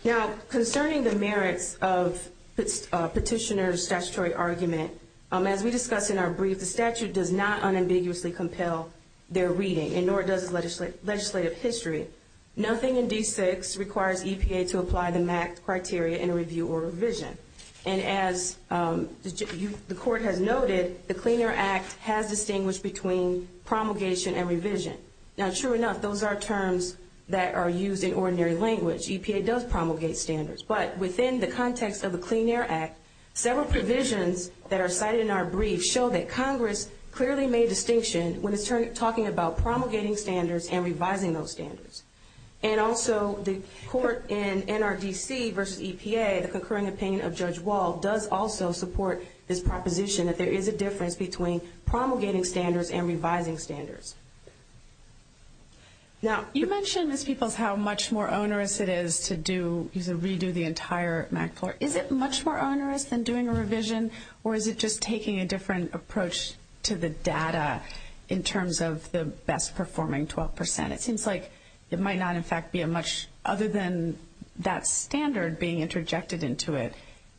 Now, concerning the merits of Petitioner's statutory argument, as we discussed in our brief, the statute does not unambiguously compel their reading, and nor does legislative history. Nothing in D6 requires EPA to apply the MAC criteria in a review or revision. And as the Court had noted, the Clean Air Act has distinguished between promulgation and revision. Now, sure enough, those are terms that are used in ordinary language. EPA does promulgate standards. But within the context of the Clean Air Act, several provisions that are cited in our brief show that Congress clearly made distinction when it's talking about promulgating standards and revising those standards. And also, the Court in NRDC versus EPA, a concurring opinion of Judge Wall, does also support this proposition that there is a difference between promulgating standards and revising standards. Now, you mentioned to people how much more onerous it is to do – to redo the entire MAC floor. Is it much more onerous than doing a revision, or is it just taking a different approach to the data in terms of the best-performing 12 percent? It seems like it might not, in fact, be much other than that standard being interjected into it.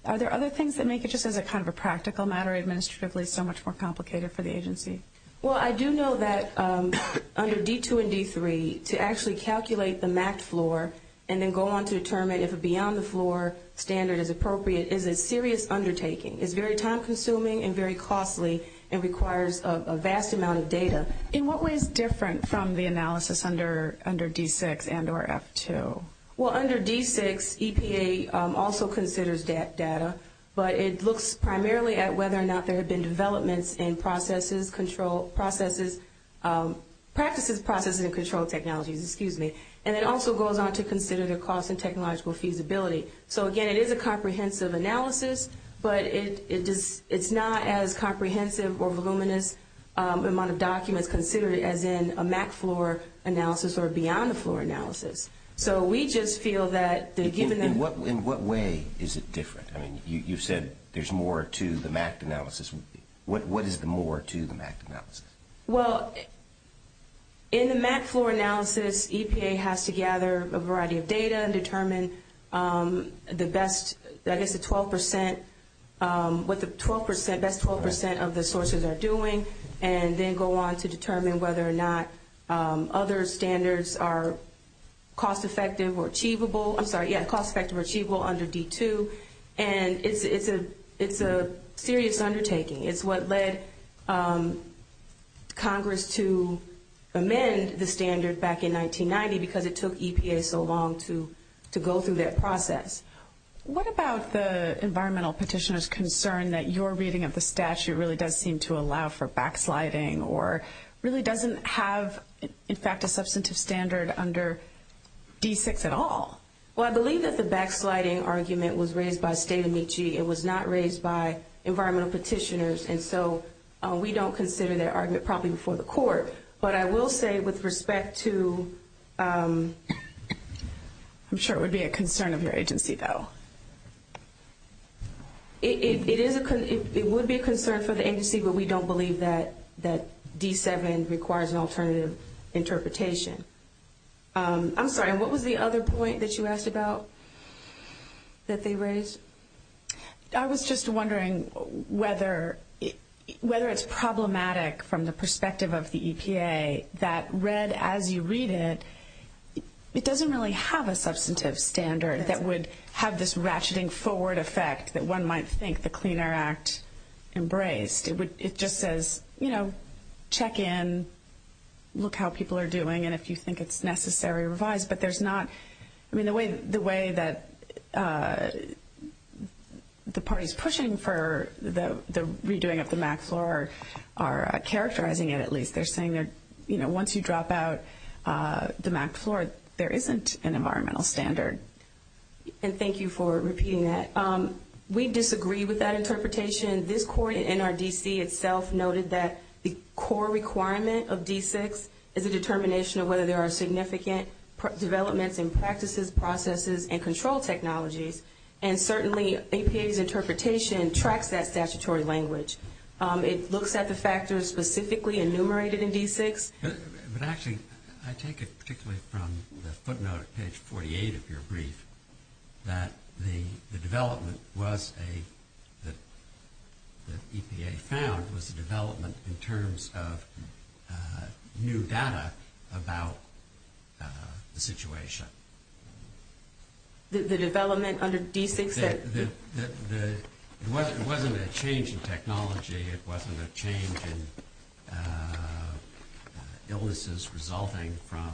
Are there other things that make it just as a kind of a practical matter, administratively, so much more complicated for the agency? Well, I do know that under D2 and D3, to actually calculate the MAC floor and then go on to determine if a beyond-the-floor standard is appropriate is a serious undertaking. It's very time-consuming and very costly and requires a vast amount of data. In what way is it different from the analysis under D6 and or F2? Well, under D6, EPA also considers that data, but it looks primarily at whether or not there have been developments in processes, control processes – practices, processes, and control technologies. And it also goes on to consider the cost and technological feasibility. So, again, it is a comprehensive analysis, but it's not as comprehensive or voluminous amount of documents considered as in a MAC floor analysis or a beyond-the-floor analysis. So we just feel that the given – In what way is it different? I mean, you said there's more to the MAC analysis. What is the more to the MAC analysis? Well, in the MAC floor analysis, EPA has to gather a variety of data and determine the best – I guess the 12 percent – what the 12 percent – best 12 percent of the sources are doing and then go on to determine whether or not other standards are cost-effective or achievable. I'm sorry, yeah, cost-effective or achievable under D2. And it's a serious undertaking. It's what led Congress to amend the standard back in 1990 because it took EPA so long to go through that process. What about the environmental petitioner's concern that your reading of the statute really does seem to allow for backsliding or really doesn't have, in fact, a substantive standard under D6 at all? Well, I believe that the backsliding argument was raised by Skidamichi. It was not raised by environmental petitioners, and so we don't consider that argument probably before the courts. But I will say with respect to – I'm sure it would be a concern of your agency, though. It would be a concern for the agency, but we don't believe that D7 requires an alternative interpretation. I'm sorry, what was the other point that you asked about that they raised? I was just wondering whether it's problematic from the perspective of the EPA that read as you read it, it doesn't really have a substantive standard that would have this ratcheting forward effect that one might think the Clean Air Act embraced. It just says, you know, check in, look how people are doing, and if you think it's necessary, revise. But there's not – I mean, the way that the parties pushing for the redoing of the MACFOR are characterizing it, at least. They're saying that, you know, once you drop out the MACFOR, there isn't an environmental standard. And thank you for repeating that. We disagree with that interpretation. In addition, this court in NRDC itself noted that the core requirement of D6 is a determination of whether there are significant developments in practices, processes, and control technologies, and certainly EPA's interpretation tracks that statutory language. It looks at the factors specifically enumerated in D6. But actually, I take it particularly from the footnote at page 48, if you're brief, that the development was a – that EPA found was a development in terms of new data about the situation. The development under D66. It wasn't a change in technology. It wasn't a change in illnesses resulting from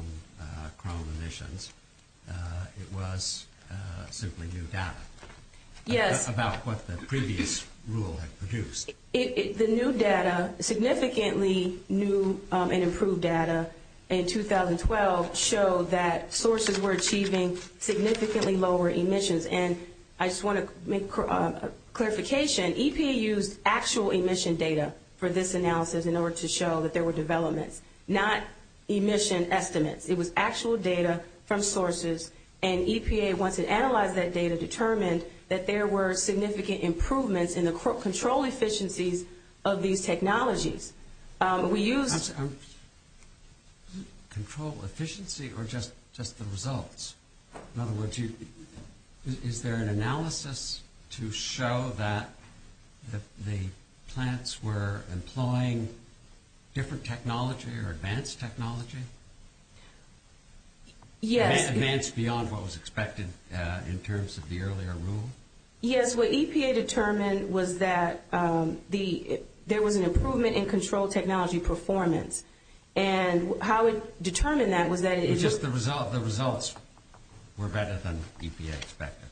chrome emissions. It was simply new data. Yes. About what the previous rule has produced. The new data, significantly new and improved data in 2012, showed that sources were achieving significantly lower emissions. And I just want to make a clarification. EPA used actual emission data for this analysis in order to show that there were developments, not emission estimates. It was actual data from sources. And EPA, once it analyzed that data, determined that there were significant improvements in the control efficiencies of these technologies. We used – Control efficiency or just the results? In other words, is there an analysis to show that the plants were employing different technology or advanced technology? Yes. Advanced beyond what was expected in terms of the earlier rules? Yes. What EPA determined was that there was an improvement in control technology performance. And how it determined that was that it – It's just the results. The results were better than EPA expected.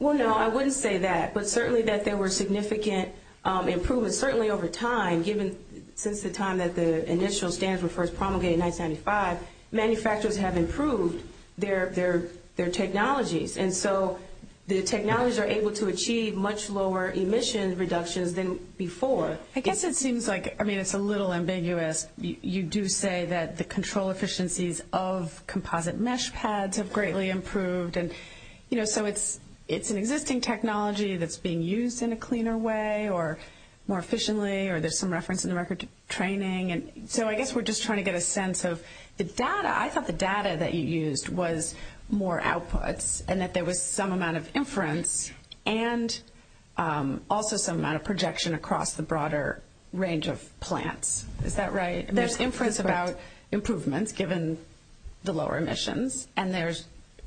Well, no, I wouldn't say that. But certainly that there were significant improvements, certainly over time, given since the time that the initial stands were first promulgated in 1995, manufacturers have improved their technologies. And so the technologies are able to achieve much lower emission reductions than before. I guess it seems like – I mean, it's a little ambiguous. You do say that the control efficiencies of composite mesh pads have greatly improved. And, you know, so it's an existing technology that's being used in a cleaner way or more efficiently, or there's some reference in the record to training. So I guess we're just trying to get a sense of the data. I thought the data that you used was more output and that there was some amount of inference and also some amount of projection across the broader range of plants. Is that right? There's inference about improvements given the lower emissions, and there's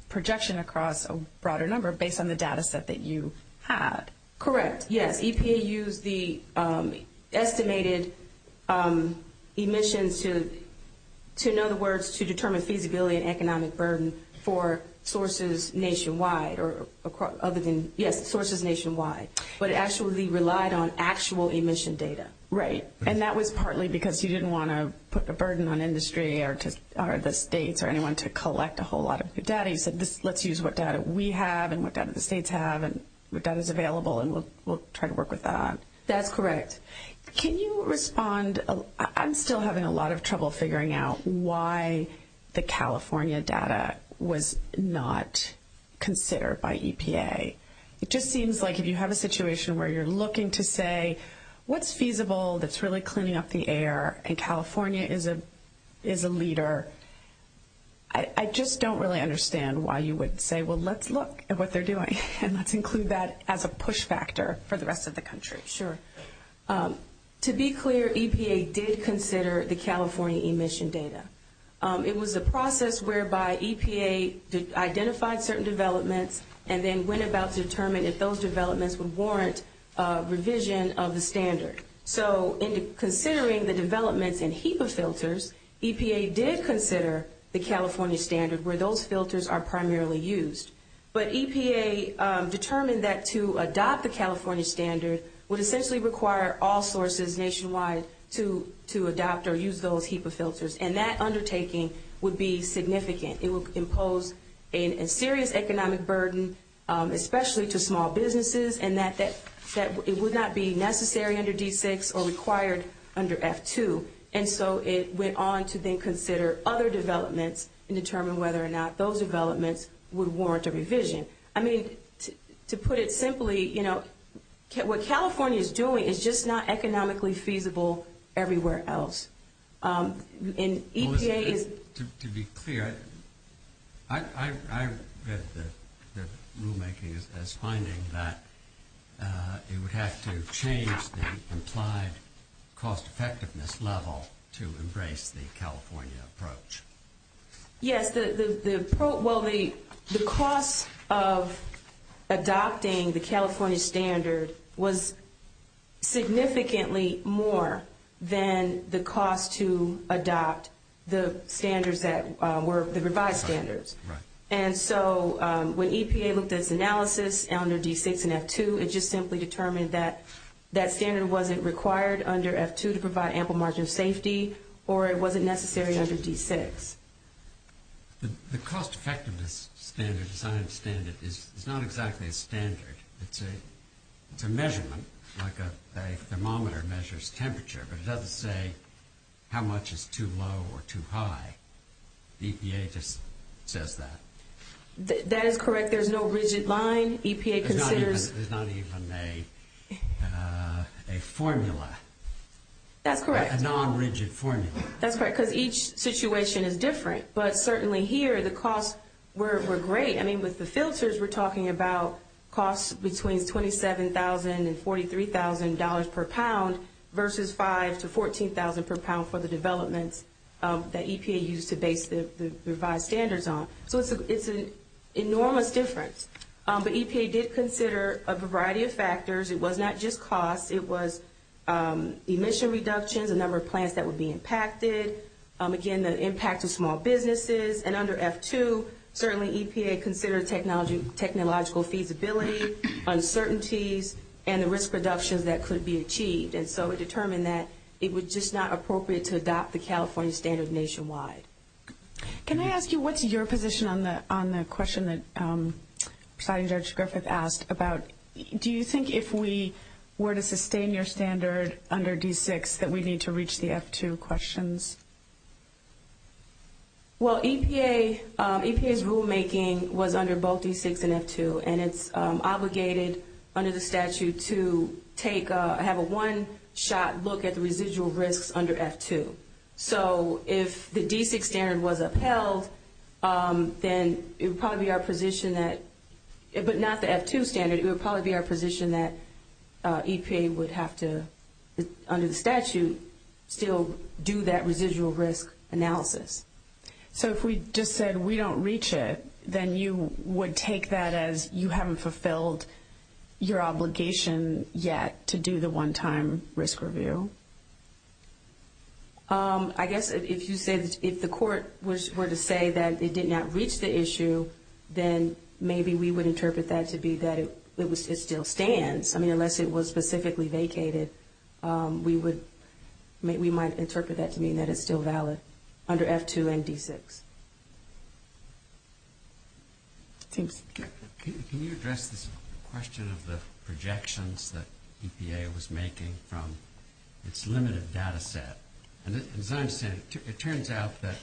projection across a broader number based on the data set that you had. Correct, yes. The EPA used the estimated emissions to, in other words, to determine feasibility and economic burden for sources nationwide. Yes, sources nationwide. But it actually relied on actual emission data. Right. And that was partly because you didn't want to put the burden on industry or the states or anyone to collect a whole lot of data. You said, let's use what we have and what the states have and we'll try to work with that. That's correct. Can you respond? I'm still having a lot of trouble figuring out why the California data was not considered by EPA. It just seems like if you have a situation where you're looking to say, what's feasible that's really cleaning up the air, and California is a leader, I just don't really understand why you would say, well, let's look at what they're doing. And let's include that as a push factor for the rest of the country. Sure. To be clear, EPA did consider the California emission data. It was a process whereby EPA identified certain developments and then went about determining if those developments would warrant revision of the standard. So in considering the development in HEPA filters, EPA did consider the California standard where those filters are primarily used. But EPA determined that to adopt the California standard would essentially require all sources nationwide to adopt or use those HEPA filters, and that undertaking would be significant. It would impose a serious economic burden, especially to small businesses, and that it would not be necessary under D6 or required under F2. And so it went on to then consider other developments and determine whether or not those developments would warrant a revision. I mean, to put it simply, you know, what California is doing is just not economically feasible everywhere else. To be clear, I read the rulemaking as finding that it would have to change the implied cost-effectiveness level to embrace the California approach. Yes. Well, the cost of adopting the California standard was significantly more than the cost to adopt the standards that were the revised standards. And so when EPA looked at its analysis under D6 and F2, it just simply determined that that standard wasn't required under F2 to provide ample margin safety, or it wasn't necessary under D6. The cost-effectiveness standard, as I understand it, is not exactly a standard. It's a measurement, like a thermometer measures temperature, but it doesn't say how much is too low or too high. EPA just says that. That is correct. There's no rigid line. There's not even a formula. That's correct. A non-rigid formula. That's right, because each situation is different. But certainly here, the costs were great. I mean, with the filters, we're talking about costs between $27,000 and $43,000 per pound versus $5,000 to $14,000 per pound for the development that EPA used to base the revised standards on. So it's an enormous difference. But EPA did consider a variety of factors. It was not just cost. It was emission reduction, the number of plants that would be impacted. Again, the impact of small businesses. And under F2, certainly EPA considered technological feasibility, uncertainties, and the risk reduction that could be achieved. And so it determined that it was just not appropriate to adopt the California standard nationwide. Can I ask you what's your position on the question that Providing Judge Griffith asked about, do you think if we were to sustain your standard under D6 that we need to reach the F2 questions? Well, EPA's rulemaking was under both D6 and F2, and it's obligated under the statute to have a one-shot look at the residual risks under F2. So if the D6 standard was upheld, then it would probably be our position that, but not the F2 standard, it would probably be our position that EPA would have to, under the statute, still do that residual risk analysis. So if we just said we don't reach it, then you would take that as you haven't fulfilled your obligation yet to do the one-time risk review. I guess if you said if the court were to say that it did not reach the issue, then maybe we would interpret that to be that it still stands. I mean, unless it was specifically vacated, we might interpret that to mean that it's still valid under F2 and D6. Thank you. Can you address the question of the projections that EPA was making from its limited data set? As I understand it, it turns out that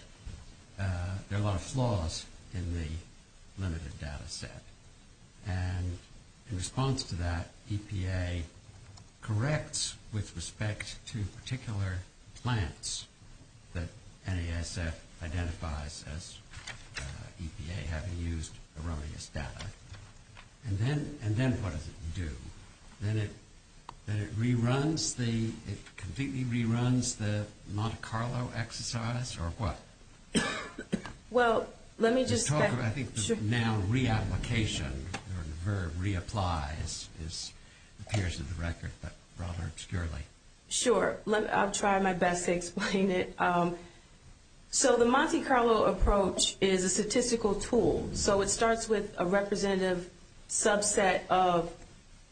there are a lot of flaws in the limited data set. And in response to that, EPA corrects with respect to particular plants that NASF identifies as EPA having used erroneous data. And then what does it do? Then it completely reruns the Monte Carlo exercise, or what? Well, let me just get... I think it's now re-application, the verb re-applies, as it appears in the record, but rather externally. Sure. I'll try my best to explain it. So the Monte Carlo approach is a statistical tool. So it starts with a representative subset of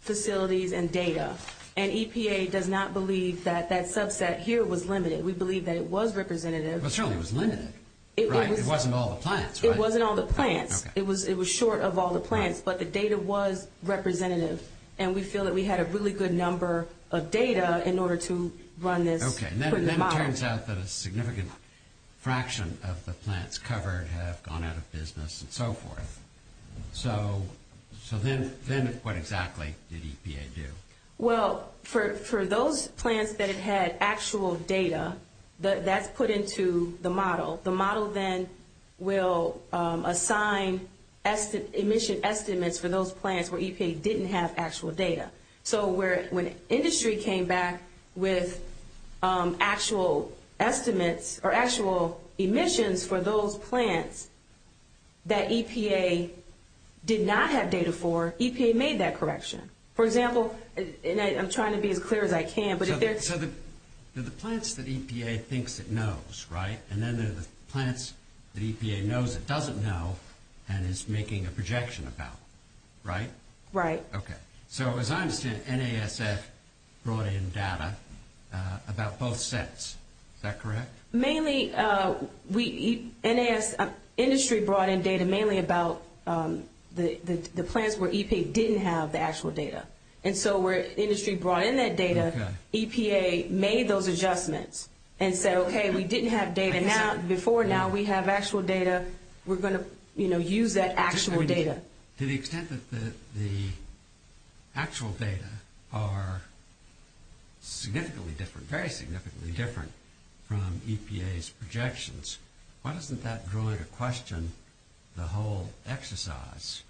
facilities and data. And EPA does not believe that that subset here was limited. We believe that it was representative. But surely it was limited. It wasn't all the plants, right? It wasn't all the plants. It was short of all the plants, but the data was representative. And we feel that we had a really good number of data in order to run this. Okay. And then it turns out that a significant fraction of the plants covered have gone out of business and so forth. So then what exactly did EPA do? Well, for those plants that had actual data, that's put into the model. The model then will assign emission estimates for those plants where EPA actually didn't have actual data. So when industry came back with actual estimates or actual emissions for those plants that EPA did not have data for, EPA made that correction. For example, and I'm trying to be as clear as I can. So the plants that EPA thinks it knows, right, and then there's the plants that EPA knows it doesn't know and is making a projection about, right? Right. Okay. So as I understand, NASF brought in data about both sets. Is that correct? Mainly, industry brought in data mainly about the plants where EPA didn't have the actual data. And so where industry brought in that data, EPA made those adjustments and said, okay, we didn't have data. Before now, we have actual data. We're going to use that actual data. To the extent that the actual data are significantly different, very significantly different from EPA's projections, why doesn't that draw into question the whole exercise?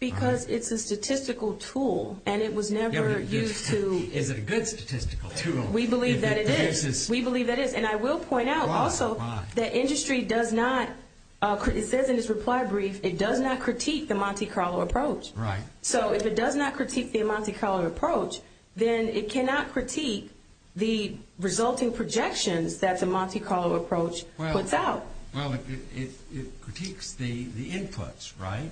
Because it's a statistical tool, and it was never used to – Is it a good statistical tool? We believe that it is. We believe that it is. And I will point out also that industry does not – it says in its reply brief, it does not critique the Monte Carlo approach. Right. So if it does not critique the Monte Carlo approach, then it cannot critique the resulting projections that the Monte Carlo approach puts out. Well, it critiques the inputs, right?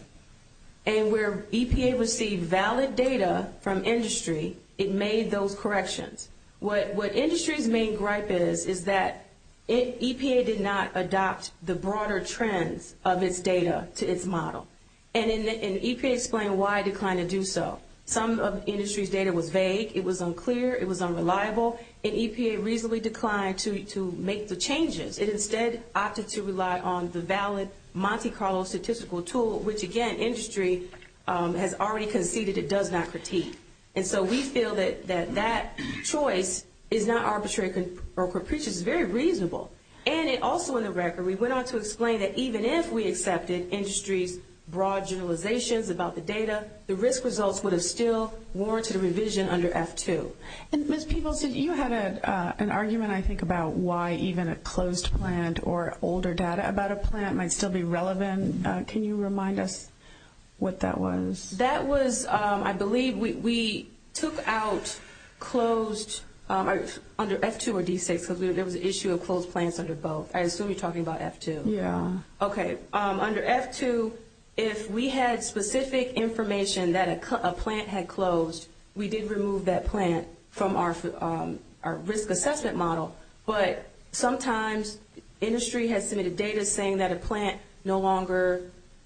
And where EPA received valid data from industry, it made those corrections. What industry's main gripe is, is that EPA did not adopt the broader trends of its data to its model. And EPA explained why it declined to do so. Some of industry's data were vague. It was unclear. It was unreliable. And EPA reasonably declined to make the changes. It instead opted to rely on the valid Monte Carlo statistical tool, which, again, industry has already conceded it does not critique. And so we feel that that choice is not arbitrary or propitious. It's very reasonable. And also in the record, we went on to explain that even if we accepted industry's broad generalizations about the data, the risk results would have still warranted a revision under F2. And, Ms. Peebleson, you had an argument, I think, about why even a closed plant or older data about a plant might still be relevant. Can you remind us what that was? That was, I believe, we took out closed, under F2 or D6, because there was an issue of closed plants under both. I assume you're talking about F2. Yeah. Okay. Under F2, if we had specific information that a plant had closed, we did remove that plant from our risk assessment model. But sometimes industry has submitted data saying that a plant no longer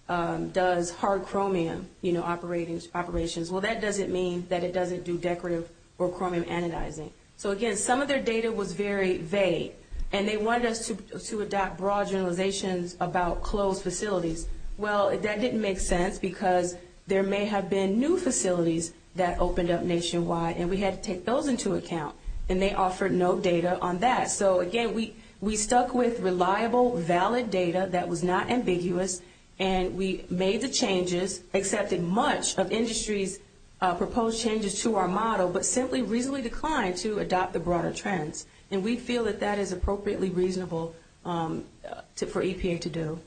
does hard chromium operations. Well, that doesn't mean that it doesn't do decorative or chromium anodizing. So, again, some of their data was very vague, and they wanted us to adopt broad generalizations about closed facilities. Well, that didn't make sense because there may have been new facilities that opened up nationwide, and we had to take those into account, and they offered no data on that. So, again, we stuck with reliable, valid data that was not ambiguous, and we made the changes, accepted much of industry's proposed changes to our model, but simply reasonably declined to adopt the broader trends. And we feel that that is appropriately reasonable for EPA to do.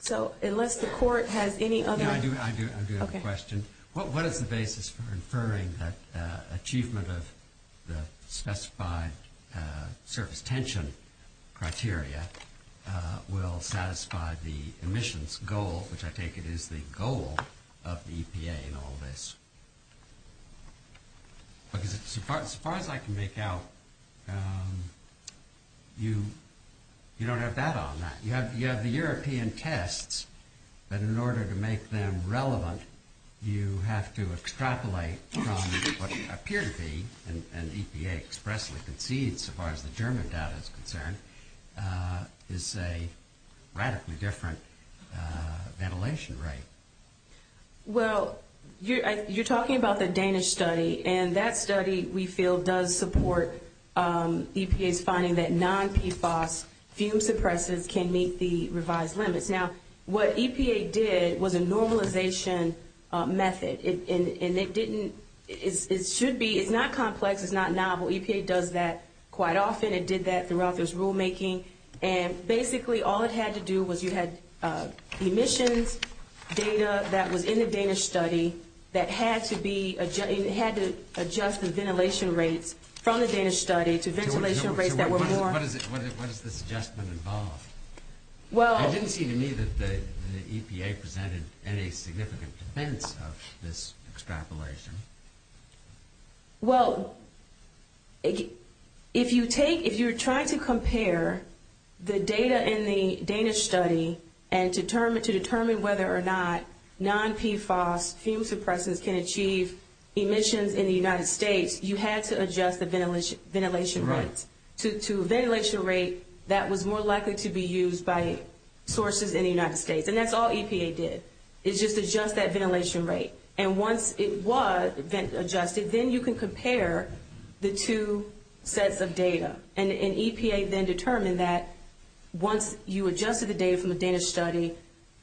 So, unless the court has any other... Yeah, I do have a question. What is the basis for inferring that achievement of the specified surface tension criteria will satisfy the emissions goal, which I take it is the goal of the EPA in all this? As far as I can make out, you don't have data on that. You have the European tests, but in order to make them relevant, you have to extrapolate from what appears to be, and EPA expressly concedes, as far as the German data is concerned, is a radically different ventilation rate. Well, you're talking about the Danish study, and that study we feel does support EPA's finding that non-PFAS fuel suppressors can meet the revised limits. Now, what EPA did was a normalization method, and it didn't... It should be... It's not complex. It's not novel. EPA does that quite often. It did that throughout this rulemaking, and basically all it had to do was you had emissions data that was in the Danish study that had to adjust the ventilation rate from the Danish study to ventilation rates that were more... What does this adjustment involve? Well... I didn't see to me that the EPA presented any significant dependence of this extrapolation. Well, if you're trying to compare the data in the Danish study and to determine whether or not non-PFAS fuel suppressors can achieve emissions in the United States, you had to adjust the ventilation rate to a ventilation rate that was more likely to be used by sources in the United States, and that's all EPA did, is just adjust that ventilation rate. And once it was adjusted, then you can compare the two sets of data. And EPA then determined that once you adjusted the data from the Danish study,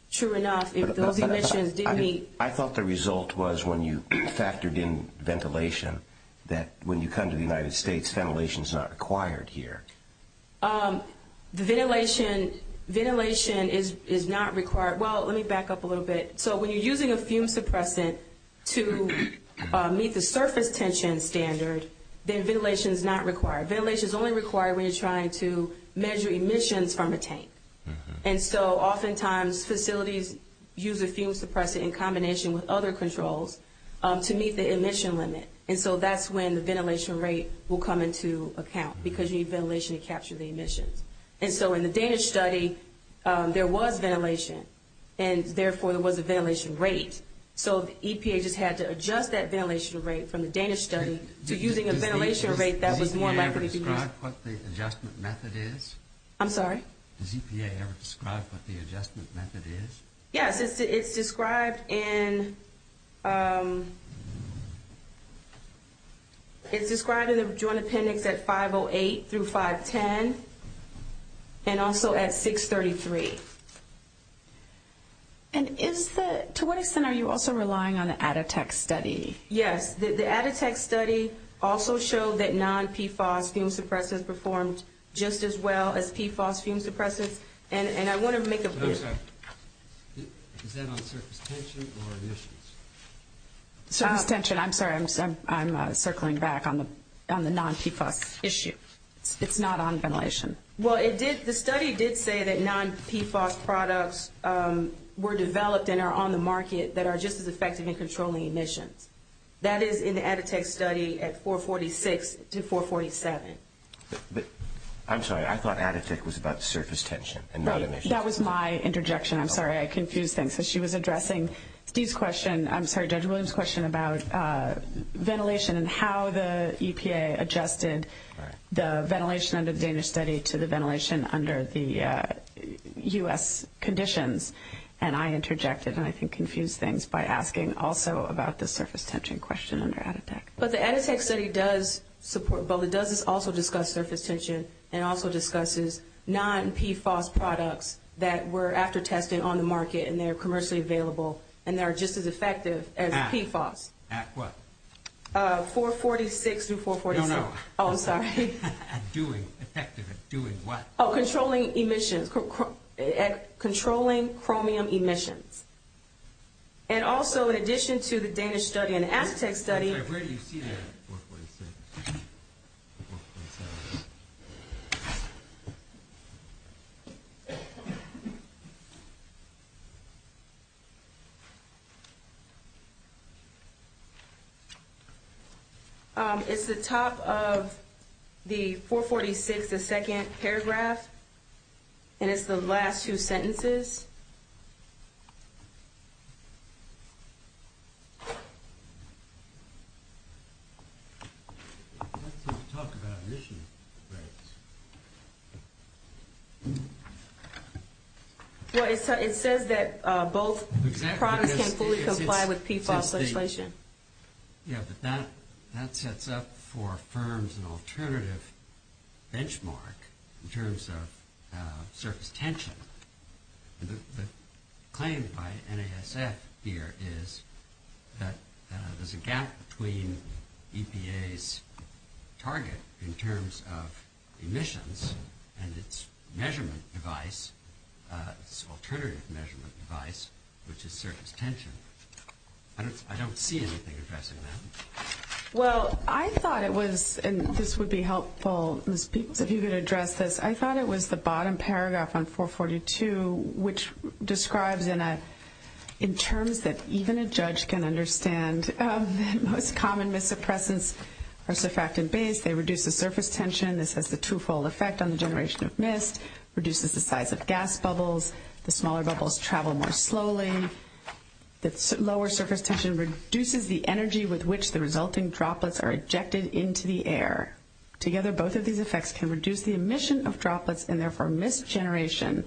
sure enough, if those emissions didn't meet... I thought the result was when you factored in ventilation, that when you come to the United States, ventilation is not required here. Ventilation is not required. Well, let me back up a little bit. So when you're using a fume suppressant to meet the surface tension standard, then ventilation is not required. Ventilation is only required when you're trying to measure emissions from a tank. And so oftentimes facilities use a fume suppressant in combination with other controls to meet the emission limit, and so that's when the ventilation rate will come into account because you need ventilation to capture the emission. And so in the Danish study, there was ventilation, and therefore there was a ventilation rate. So EPA just had to adjust that ventilation rate from the Danish study to using a ventilation rate that was more likely to meet... Did EPA ever describe what the adjustment method is? I'm sorry? Did EPA ever describe what the adjustment method is? Yeah, it's described in the Joint Attendant at 508 through 510 and also at 633. And to what extent are you also relying on the Atatek study? Yes. The Atatek study also showed that non-PFOS fume suppressants performed just as well as PFOS fume suppressants, and I want to make a point... Is that on surface tension or emissions? Surface tension. I'm sorry. I'm circling back on the non-PFOS issue. It's not on ventilation. Well, the study did say that non-PFOS products were developed and are on the market that are just as effective in controlling emissions. That is in the Atatek study at 446 to 447. I'm sorry. I thought Atatek was about surface tension and not emissions. Right. That was my interjection. I'm sorry. I confused things because she was addressing Steve's question. I'm sorry, Judge Williams' question about ventilation and how the EPA adjusted the ventilation under the Danish study to the ventilation under the U.S. conditions, and I interjected and I think confused things by asking also about the surface tension question under Atatek. But the Atatek study does support both. It does also discuss surface tension and also discusses non-PFOS products that were after testing on the market and they're commercially available and they're just as effective as PFOS. At what? 446 to 447. No, no. Oh, I'm sorry. Effective at doing what? Oh, controlling emissions, controlling chromium emissions. And also in addition to the Danish study and the Atatek study. I rarely see that at 446. It's the top of the 446, the second paragraph, and it's the last two sentences. It says that both products can fully comply with PFOS legislation. Yes, but that sets up for firms an alternative benchmark in terms of surface tension. The claim by NASF here is that there's a gap between EPA's target in terms of emissions and its measurement device, its alternative measurement device, which is surface tension. I don't see anything addressing that. Well, I thought it was, and this would be helpful, Ms. Peoples, if you could address this. I thought it was the bottom paragraph on 442, which describes in terms that even a judge can understand the most common mis-suppressants are surfactant-based. They reduce the surface tension. This is a two-fold effect on the generation of mist, reduces the size of gas bubbles. The smaller bubbles travel more slowly. The lower surface tension reduces the energy with which the resulting droplets are ejected into the air. Together, both of these effects can reduce the emission of droplets and, therefore, mist generation.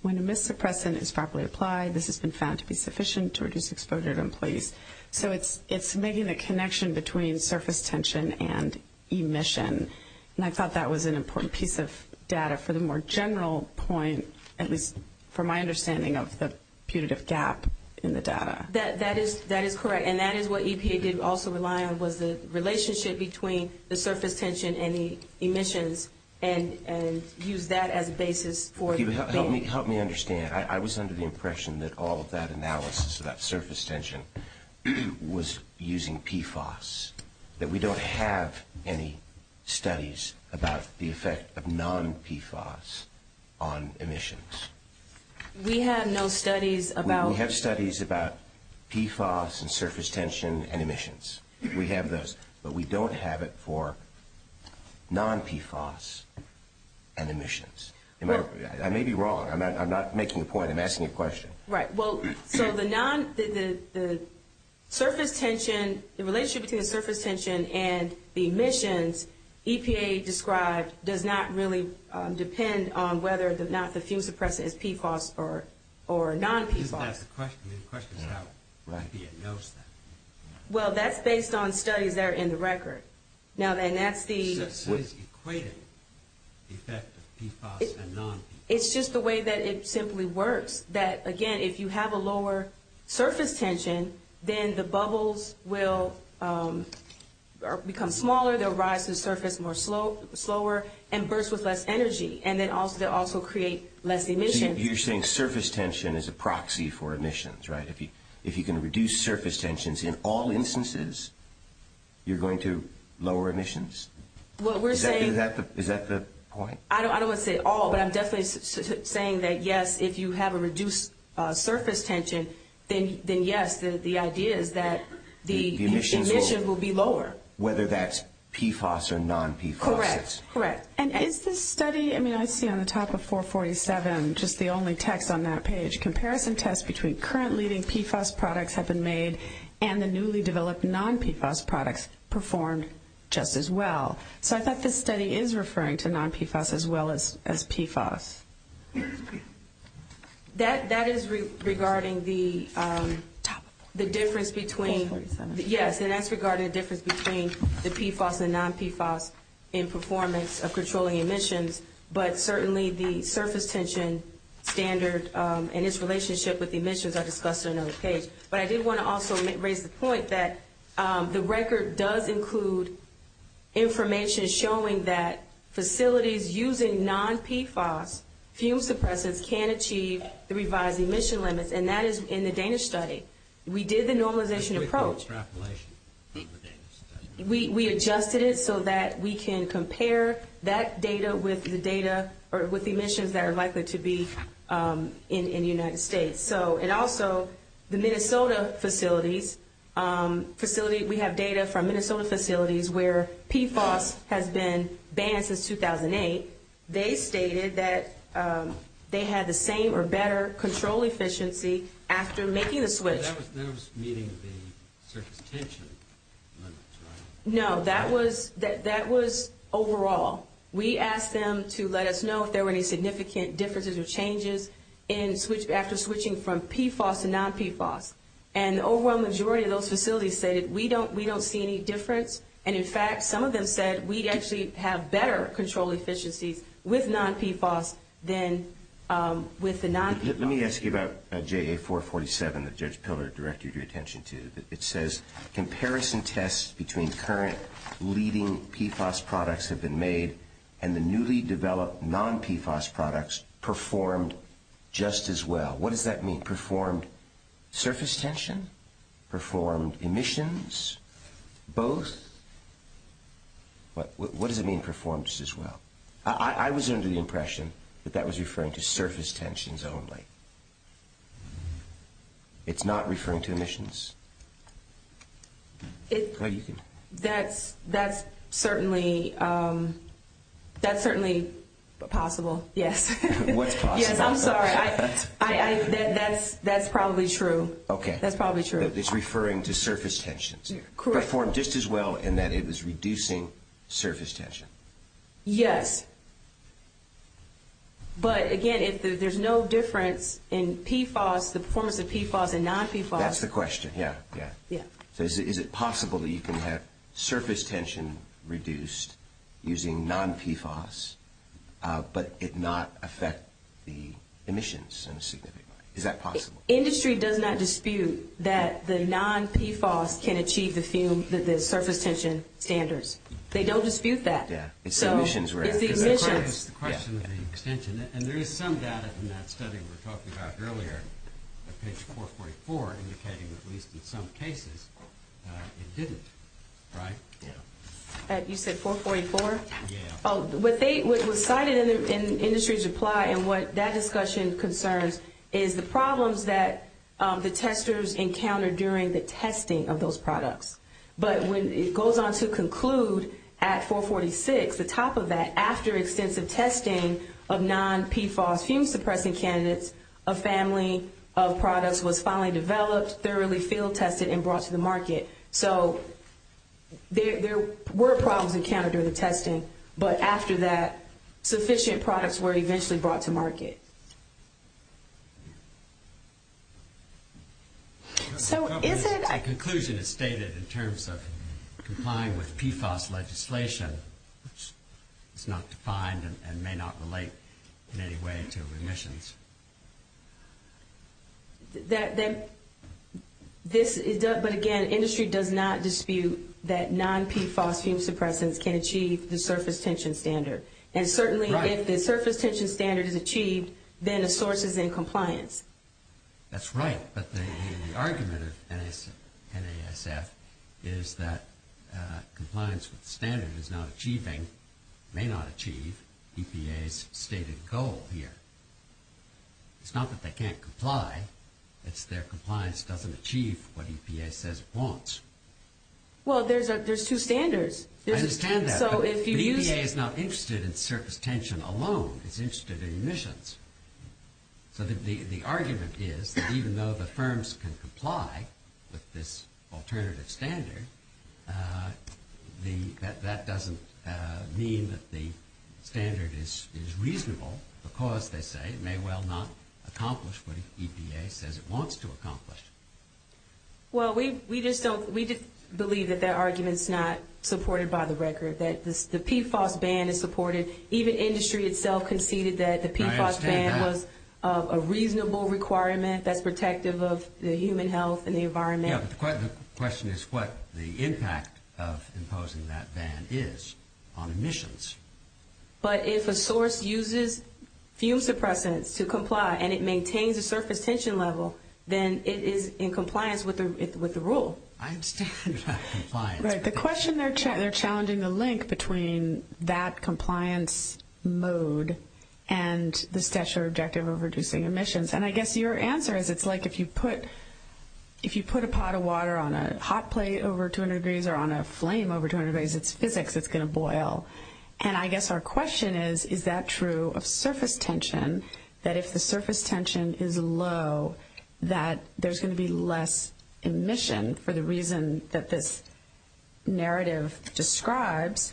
When a mist suppressant is properly applied, this has been found to be sufficient to reduce exposure to employees. So it's making the connection between surface tension and emission, and I thought that was an important piece of data for the more general point, at least from my understanding of the punitive gap in the data. That is correct, and that is what EPA did also rely on was the relationship between the surface tension and the emissions and used that as a basis for the data. Help me understand. I was under the impression that all of that analysis about surface tension was using PFAS, that we don't have any studies about the effect of non-PFAS on emissions. We have no studies about... We have studies about PFAS and surface tension and emissions. We have those, but we don't have it for non-PFAS and emissions. I may be wrong. I'm not making a point. I'm asking a question. Right. Well, so the relationship between the surface tension and the emissions, EPA describes, does not really depend on whether or not the fuel suppressant is PFAS or non-PFAS. I didn't ask the question. The question is how EPA knows that. Well, that's based on studies that are in the record. Now, that's the... What is equated to the effect of PFAS and non-PFAS? It's just the way that it simply works. That, again, if you have a lower surface tension, then the bubbles will become smaller. They'll rise to the surface more slower and burst with less energy, and they also create less emissions. You're saying surface tension is a proxy for emissions, right? If you can reduce surface tensions in all instances, you're going to lower emissions? Is that the point? I don't want to say all, but I'm definitely saying that, yes, if you have a reduced surface tension, then yes, the idea is that the emissions will be lower. Whether that's PFAS or non-PFAS. Correct. Correct. Is this study... I mean, I see on the top of 447 just the only text on that page. Comparison tests between current leading PFAS products have been made and the newly developed non-PFAS products performed just as well. I thought this study is referring to non-PFAS as well as PFAS. That is regarding the difference between... 447. It's not just controlling emissions, but certainly the surface tension standards and its relationship with the emissions are discussed in another case. I did want to also raise the point that the record does include information showing that facilities using non-PFAS fume suppressors can achieve the revised emission limits, and that is in the Danish study. We did the normalization approach. We adjusted it so that we can compare that data with the emissions that are likely to be in the United States. Also, the Minnesota facilities, we have data from Minnesota facilities where PFAS has been banned since 2008. They stated that they had the same or better control efficiency after making the switch. That was meeting the surface tension. No, that was overall. We asked them to let us know if there were any significant differences or changes after switching from PFAS to non-PFAS. The overall majority of those facilities said, we don't see any difference. In fact, some of them said we actually have better control efficiency with non-PFAS than with the non-PFAS. Let me ask you about JA447 that Judge Pillard directed your attention to. It says, comparison tests between current leading PFAS products have been made and the newly developed non-PFAS products performed just as well. What does that mean? Performed surface tension? Performed emissions? Both? What does it mean, performed just as well? I was under the impression that that was referring to surface tensions only. It's not referring to emissions? That's certainly possible. Yes, I'm sorry. That's probably true. It's referring to surface tensions. Performed just as well in that it was reducing surface tension. Yes. Again, there's no difference in the performance of PFAS and non-PFAS. That's the question, yes. Is it possible that you can have surface tension reduced using non-PFAS but it not affect the emissions significantly? Is that possible? Industry does not dispute that the non-PFAS can achieve the surface tension standards. They don't dispute that. It's the emissions, right? It's the emissions. The question is the extension. There is some data from that study we were talking about earlier, page 444, indicating at least in some cases it didn't, right? You said 444? Yes. What was cited in the industry's reply and what that discussion concerns is the problems that the testers encountered during the testing of those products. But when it goes on to conclude at 446, the top of that, after extensive testing of non-PFAS human-suppressing candidates, a family of products was finally developed, thoroughly field-tested, and brought to the market. So there were problems encountered during the testing, but after that, sufficient products were eventually brought to market. So is it... The conclusion is stated in terms of complying with PFAS legislation, which is not defined and may not relate in any way to emissions. But again, industry does not dispute that non-PFAS human-suppressants can achieve the surface tension standard. And certainly if the surface tension standard is achieved, then the source is in compliance. That's right. But the argument of NASF is that compliance standard is not achieving, may not achieve, EPA's stated goal here. It's not that they can't comply. It's their compliance doesn't achieve what EPA says it wants. Well, there's two standards. I understand that. So if you use... EPA is not interested in surface tension alone. It's interested in emissions. So the argument is that even though the firms can comply with this alternative standard, that doesn't mean that the standard is reasonable because, they say, may well not accomplish what EPA says it wants to accomplish. Well, we just don't... We just believe that that argument's not supported by the record, that the PFAS ban is supported. Even industry itself conceded that the PFAS ban was a reasonable requirement that's protective of the human health and the environment. Yeah, but the question is what the impact of imposing that ban is on emissions. But if a source uses fume suppressants to comply and it maintains a surface tension level, then it is in compliance with the rule. I understand that it's not compliant. Right. The question they're challenging the link between that compliance mode and the Stesha objective of reducing emissions. And I guess your answer is it's like if you put a pot of water on a hot plate over 200 degrees or on a flame over 200 degrees, it's physics, it's going to boil. And I guess our question is, is that true of surface tension, that if the surface tension is low, that there's going to be less emission for the reason that this narrative describes?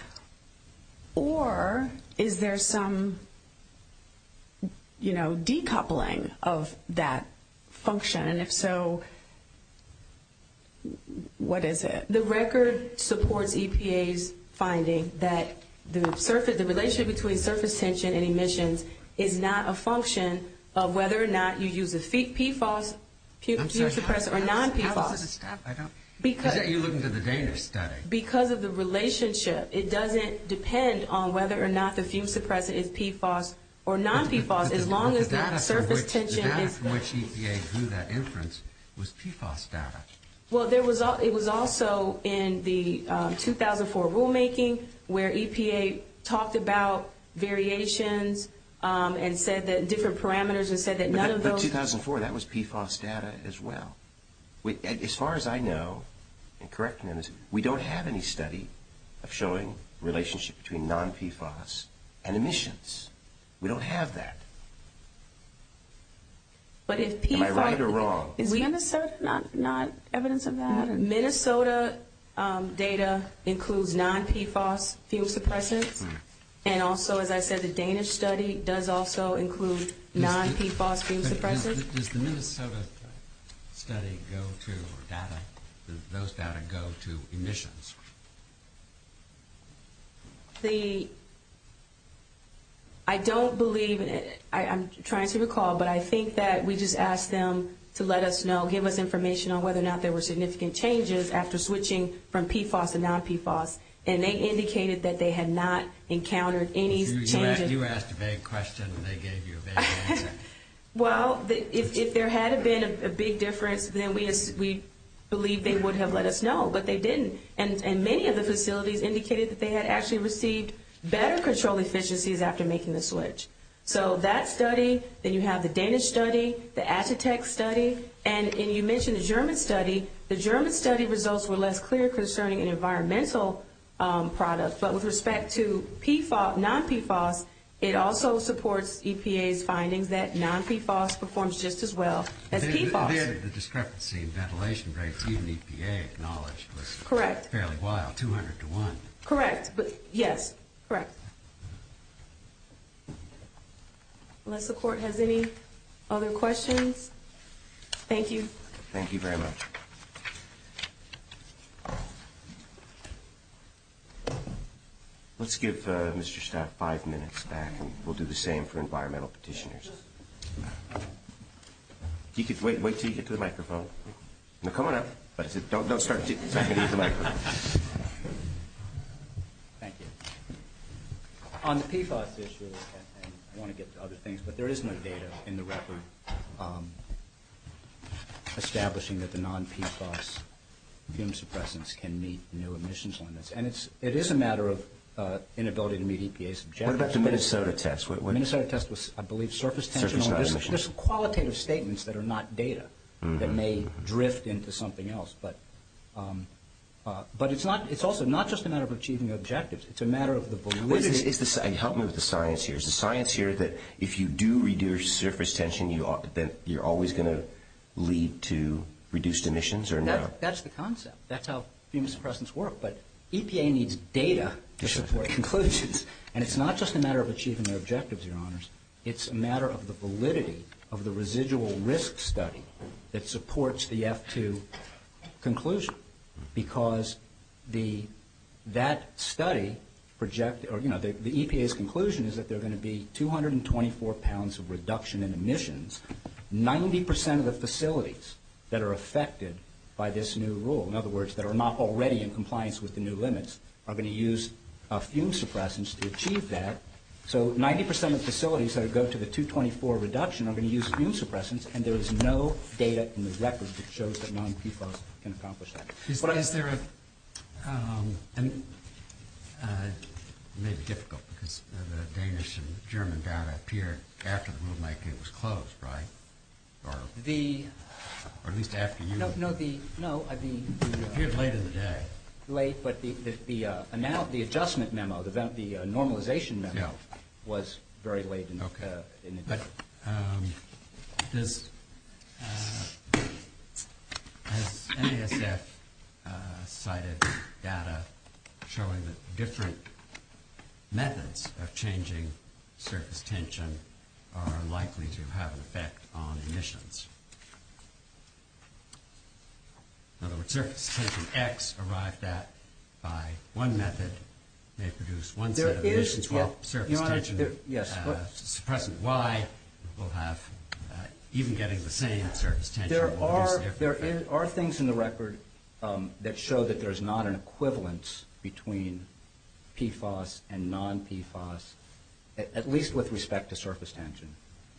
Or is there some, you know, decoupling of that function? And if so, what is it? The record supports EPA's finding that the relationship between surface tension and emission is not a function of whether or not you use the PFAS, fume suppressant or non-PFAS. I thought you were looking to the data study. Because of the relationship, it doesn't depend on whether or not the fume suppressant is PFAS or non-PFAS as long as that surface tension... The data from which EPA drew that inference was PFAS data. Well, it was also in the 2004 rulemaking where EPA talked about variations and said that different parameters and said that none of those... But 2004, that was PFAS data as well. As far as I know, and correct me if I'm wrong, we don't have any study of showing relationship between non-PFAS and emissions. We don't have that. Am I right or wrong? Is Minnesota not evidence of that? Minnesota data includes non-PFAS fume suppressants. And also, as I said, the Danish study does also include non-PFAS fume suppressants. Does the Minnesota study go to data? Does those data go to emissions? I don't believe... I'm trying to recall, but I think that we just asked them to let us know, give us information on whether or not there were significant changes after switching from PFAS to non-PFAS. And they indicated that they had not encountered any changes. You asked a big question and they gave you a big answer. Well, if there had been a big difference, then we believe they would have let us know, but they didn't. And many of the facilities indicated that they had actually received better control efficiencies after making the switch. So that study, then you have the Danish study, the Agitech study, and you mentioned the German study. The German study results were less clear concerning environmental products. But with respect to PFAS, non-PFAS, it also supports EPA's finding that non-PFAS performs just as well as PFAS. The discrepancy in ventilation rates, even EPA acknowledged, were fairly wild, 200 to 1. Correct. Yes. Correct. Unless the Court has any other questions. Thank you. Thank you very much. Let's give Mr. Staff five minutes back, and we'll do the same for environmental petitioners. Wait until you get to the microphone. No, come on up. Don't start. You can use the microphone. Thank you. On the PFAS issue, I want to get to other things, but there is no data in the record establishing that the non-PFAS fume suppressants can meet the new emissions limits. It is a matter of inability to meet EPA's objectives. What about the Minnesota test? The Minnesota test was, I believe, surface tension. There's qualitative statements that are not data that may drift into something else. But it's also not just a matter of achieving objectives. It's a matter of the belief. Help me with the science here. Is the science here that if you do reduce surface tension, that you're always going to lead to reduced emissions? That's the concept. That's how fume suppressants work. But EPA needs data to support conclusions. And it's not just a matter of achieving their objectives, your honors. It's a matter of the validity of the residual risk study that supports the F2 conclusion. Because that study, the EPA's conclusion is that there are going to be 224 pounds of reduction in emissions. 90% of the facilities that are affected by this new rule, in other words, that are not already in compliance with the new limits, are going to use fume suppressants to achieve that. So 90% of the facilities that go to the 224 reduction are going to use fume suppressants. And there is no data in the records that shows that 90% can accomplish that. But is there a... It's a little difficult because the Danish and German data appeared after the rule might have been disclosed, right? Or at least after you... No, no, the... It appeared later in the day. Late, but the adjustment memo, the normalization memo was very late in the day. Okay. But does any of this cited data showing that different methods of changing surface tension are likely to have an effect on emissions? In other words, surface tension X arrived at by one method may produce one type of emissions called surface tension. Suppressant Y will have... Even getting the same surface tension... There are things in the record that show that there is not an equivalence between PFAS and non-PFAS, at least with respect to surface tension.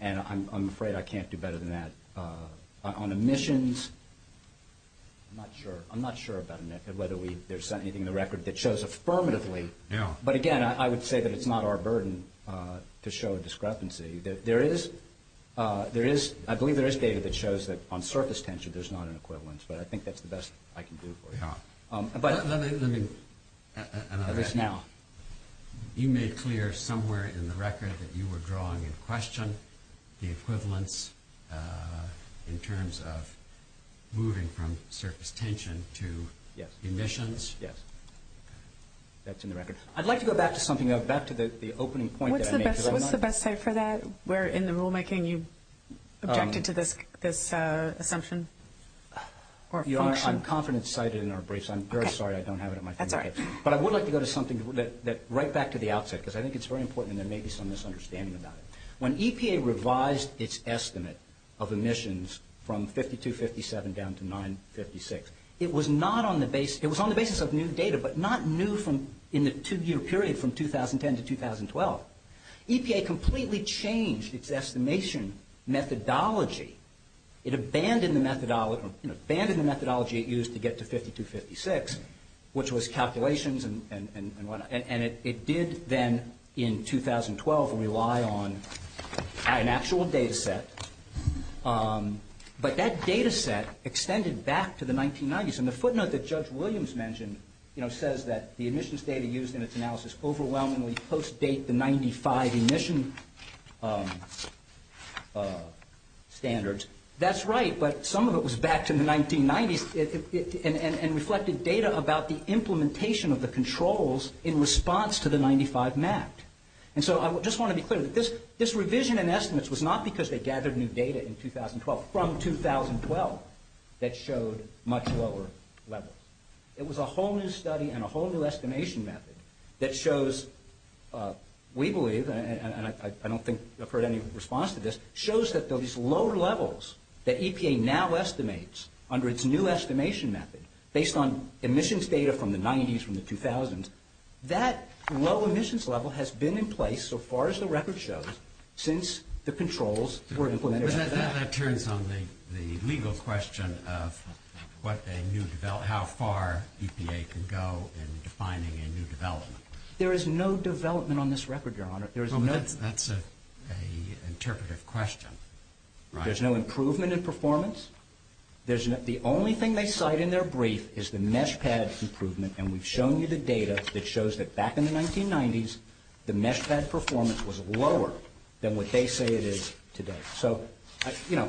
And I'm afraid I can't do better than that. On emissions, I'm not sure about a method, whether there's anything in the record that shows affirmatively. But again, I would say that it's not our burden to show a discrepancy. There is... I believe there is data that shows that on surface tension, there's not an equivalence, but I think that's the best I can do for you. At least now. You made clear somewhere in the record that you were drawing a question. The equivalence in terms of moving from surface tension to emissions? Yes. That's in the record. I'd like to go back to something. Back to the opening point that I made. What's the best site for that? Where in the rulemaking you objected to this assumption? I'm confident it's cited in our briefs. I'm very sorry. I don't have it in my hand. But I would like to go to something right back to the outset, because I think it's very important and there may be some misunderstanding about it. When EPA revised its estimate of emissions from 5257 down to 956, it was on the basis of new data, but not new in the two-year period from 2010 to 2012. EPA completely changed its estimation methodology. It abandoned the methodology it used to get to 5256, which was calculations, and it did then in 2012 rely on an actual data set. But that data set extended back to the 1990s. The footnote that Judge Williams mentioned says that the emissions data used in its analysis overwhelmingly post-date the 95 emission standards. That's right, but some of it was back in the 1990s and reflected data about the implementation of the controls in response to the 95 map. I just want to be clear. This revision in estimates was not because they gathered new data in 2012. From 2012, that showed much lower levels. It was a whole new study and a whole new estimation method that shows, we believe, and I don't think I've heard any response to this, shows that those lower levels that EPA now estimates under its new estimation method based on emissions data from the 90s from the 2000s, that low emissions level has been in place so far as the record shows since the controls were implemented. But that turns on the legal question of how far EPA can go in defining a new development. There is no development on this record, Your Honor. That's an interpretive question. There's no improvement in performance. The only thing they cite in their brief is the mesh pad's improvement, and we've shown you the data that shows that back in the 1990s, the mesh pad performance was lower than what they say it is today. So, you know,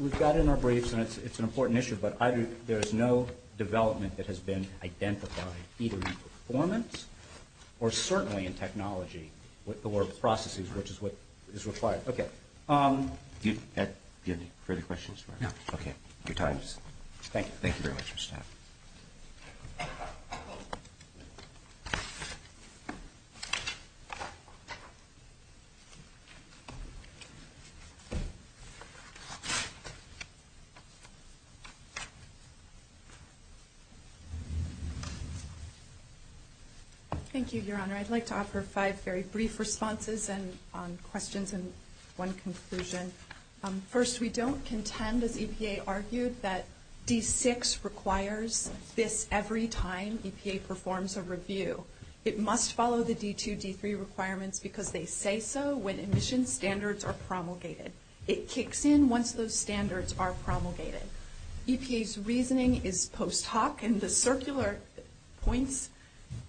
we've got it in our briefs and it's an important issue, but either there's no development that has been identified either in performance or certainly in technology or processes, which is what is required. Okay. Do you have any further questions? No. Okay. Your time is up. Thank you. Thank you very much, Mr. Staff. Thank you, Your Honor. I'd like to offer five very brief responses and questions and one conclusion. First, we don't contend, as EPA argued, that D6 requires this every time EPA performs a review. It must follow the D2, D3 requirements because they say so when emission standards are promulgated. It kicks in once those standards are promulgated. EPA's reasoning is post hoc and the circular points,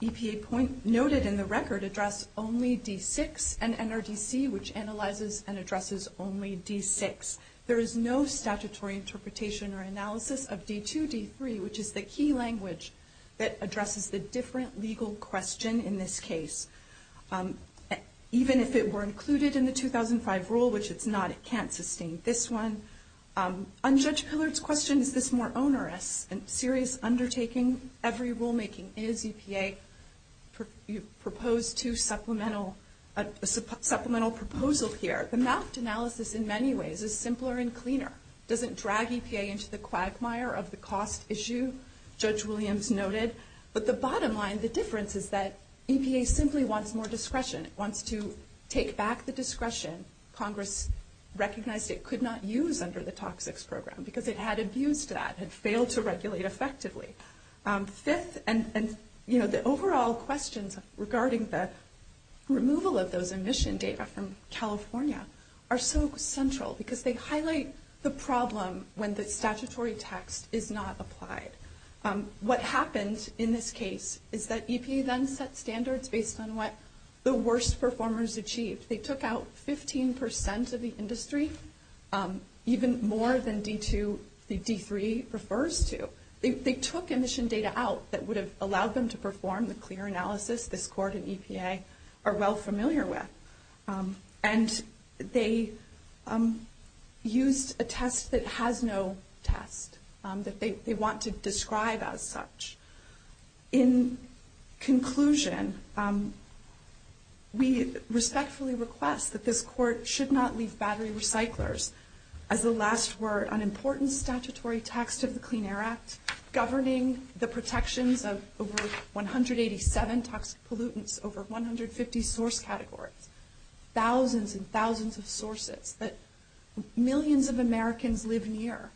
EPA points noted in the record, address only D6 and NRDC, which analyzes and addresses only D6. There is no statutory interpretation or analysis of D2, D3, which is the key language that is used to answer the question in this case. Even if it were included in the 2005 rule, which it's not, it can't sustain this one. On Judge Pillard's question, if it's more onerous and serious undertaking, every rulemaking is, EPA proposed two supplemental proposals here. The masked analysis in many ways is simpler and cleaner. It doesn't drag EPA into the quagmire of the cost issue, Judge Williams noted, but the difference is that EPA simply wants more discretion. It wants to take back the discretion Congress recognized it could not use under the toxics program because it had abused that and failed to regulate effectively. The overall questions regarding the removal of those emission data from California are so central because they highlight the problem when the statutory text is not applied. What happened in this case is that EPA then set standards based on what the worst performers achieved. They took out 15% of the industry, even more than D2, D3 refers to. They took emission data out that would have allowed them to perform the clear analysis this court and EPA are well familiar with. They used a test that has no test that they want to describe as such. In conclusion, we respectfully request that this court should not leave battery recyclers as the last word on important statutory text of the Clean Air Act governing the protections of over 187 toxic pollutants, over 150 source categories, thousands and thousands of sources that millions of Americans live near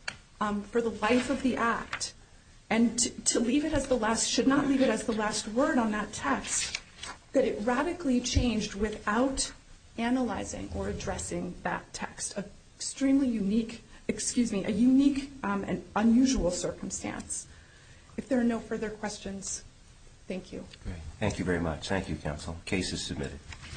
for the life of the act. To leave it as the last, should not leave it as the last word on that text that it radically changed without analyzing or addressing that text. An extremely unique, excuse me, a unique and unusual circumstance. If there are no further questions, thank you. Thank you very much. Thank you counsel. Case is submitted.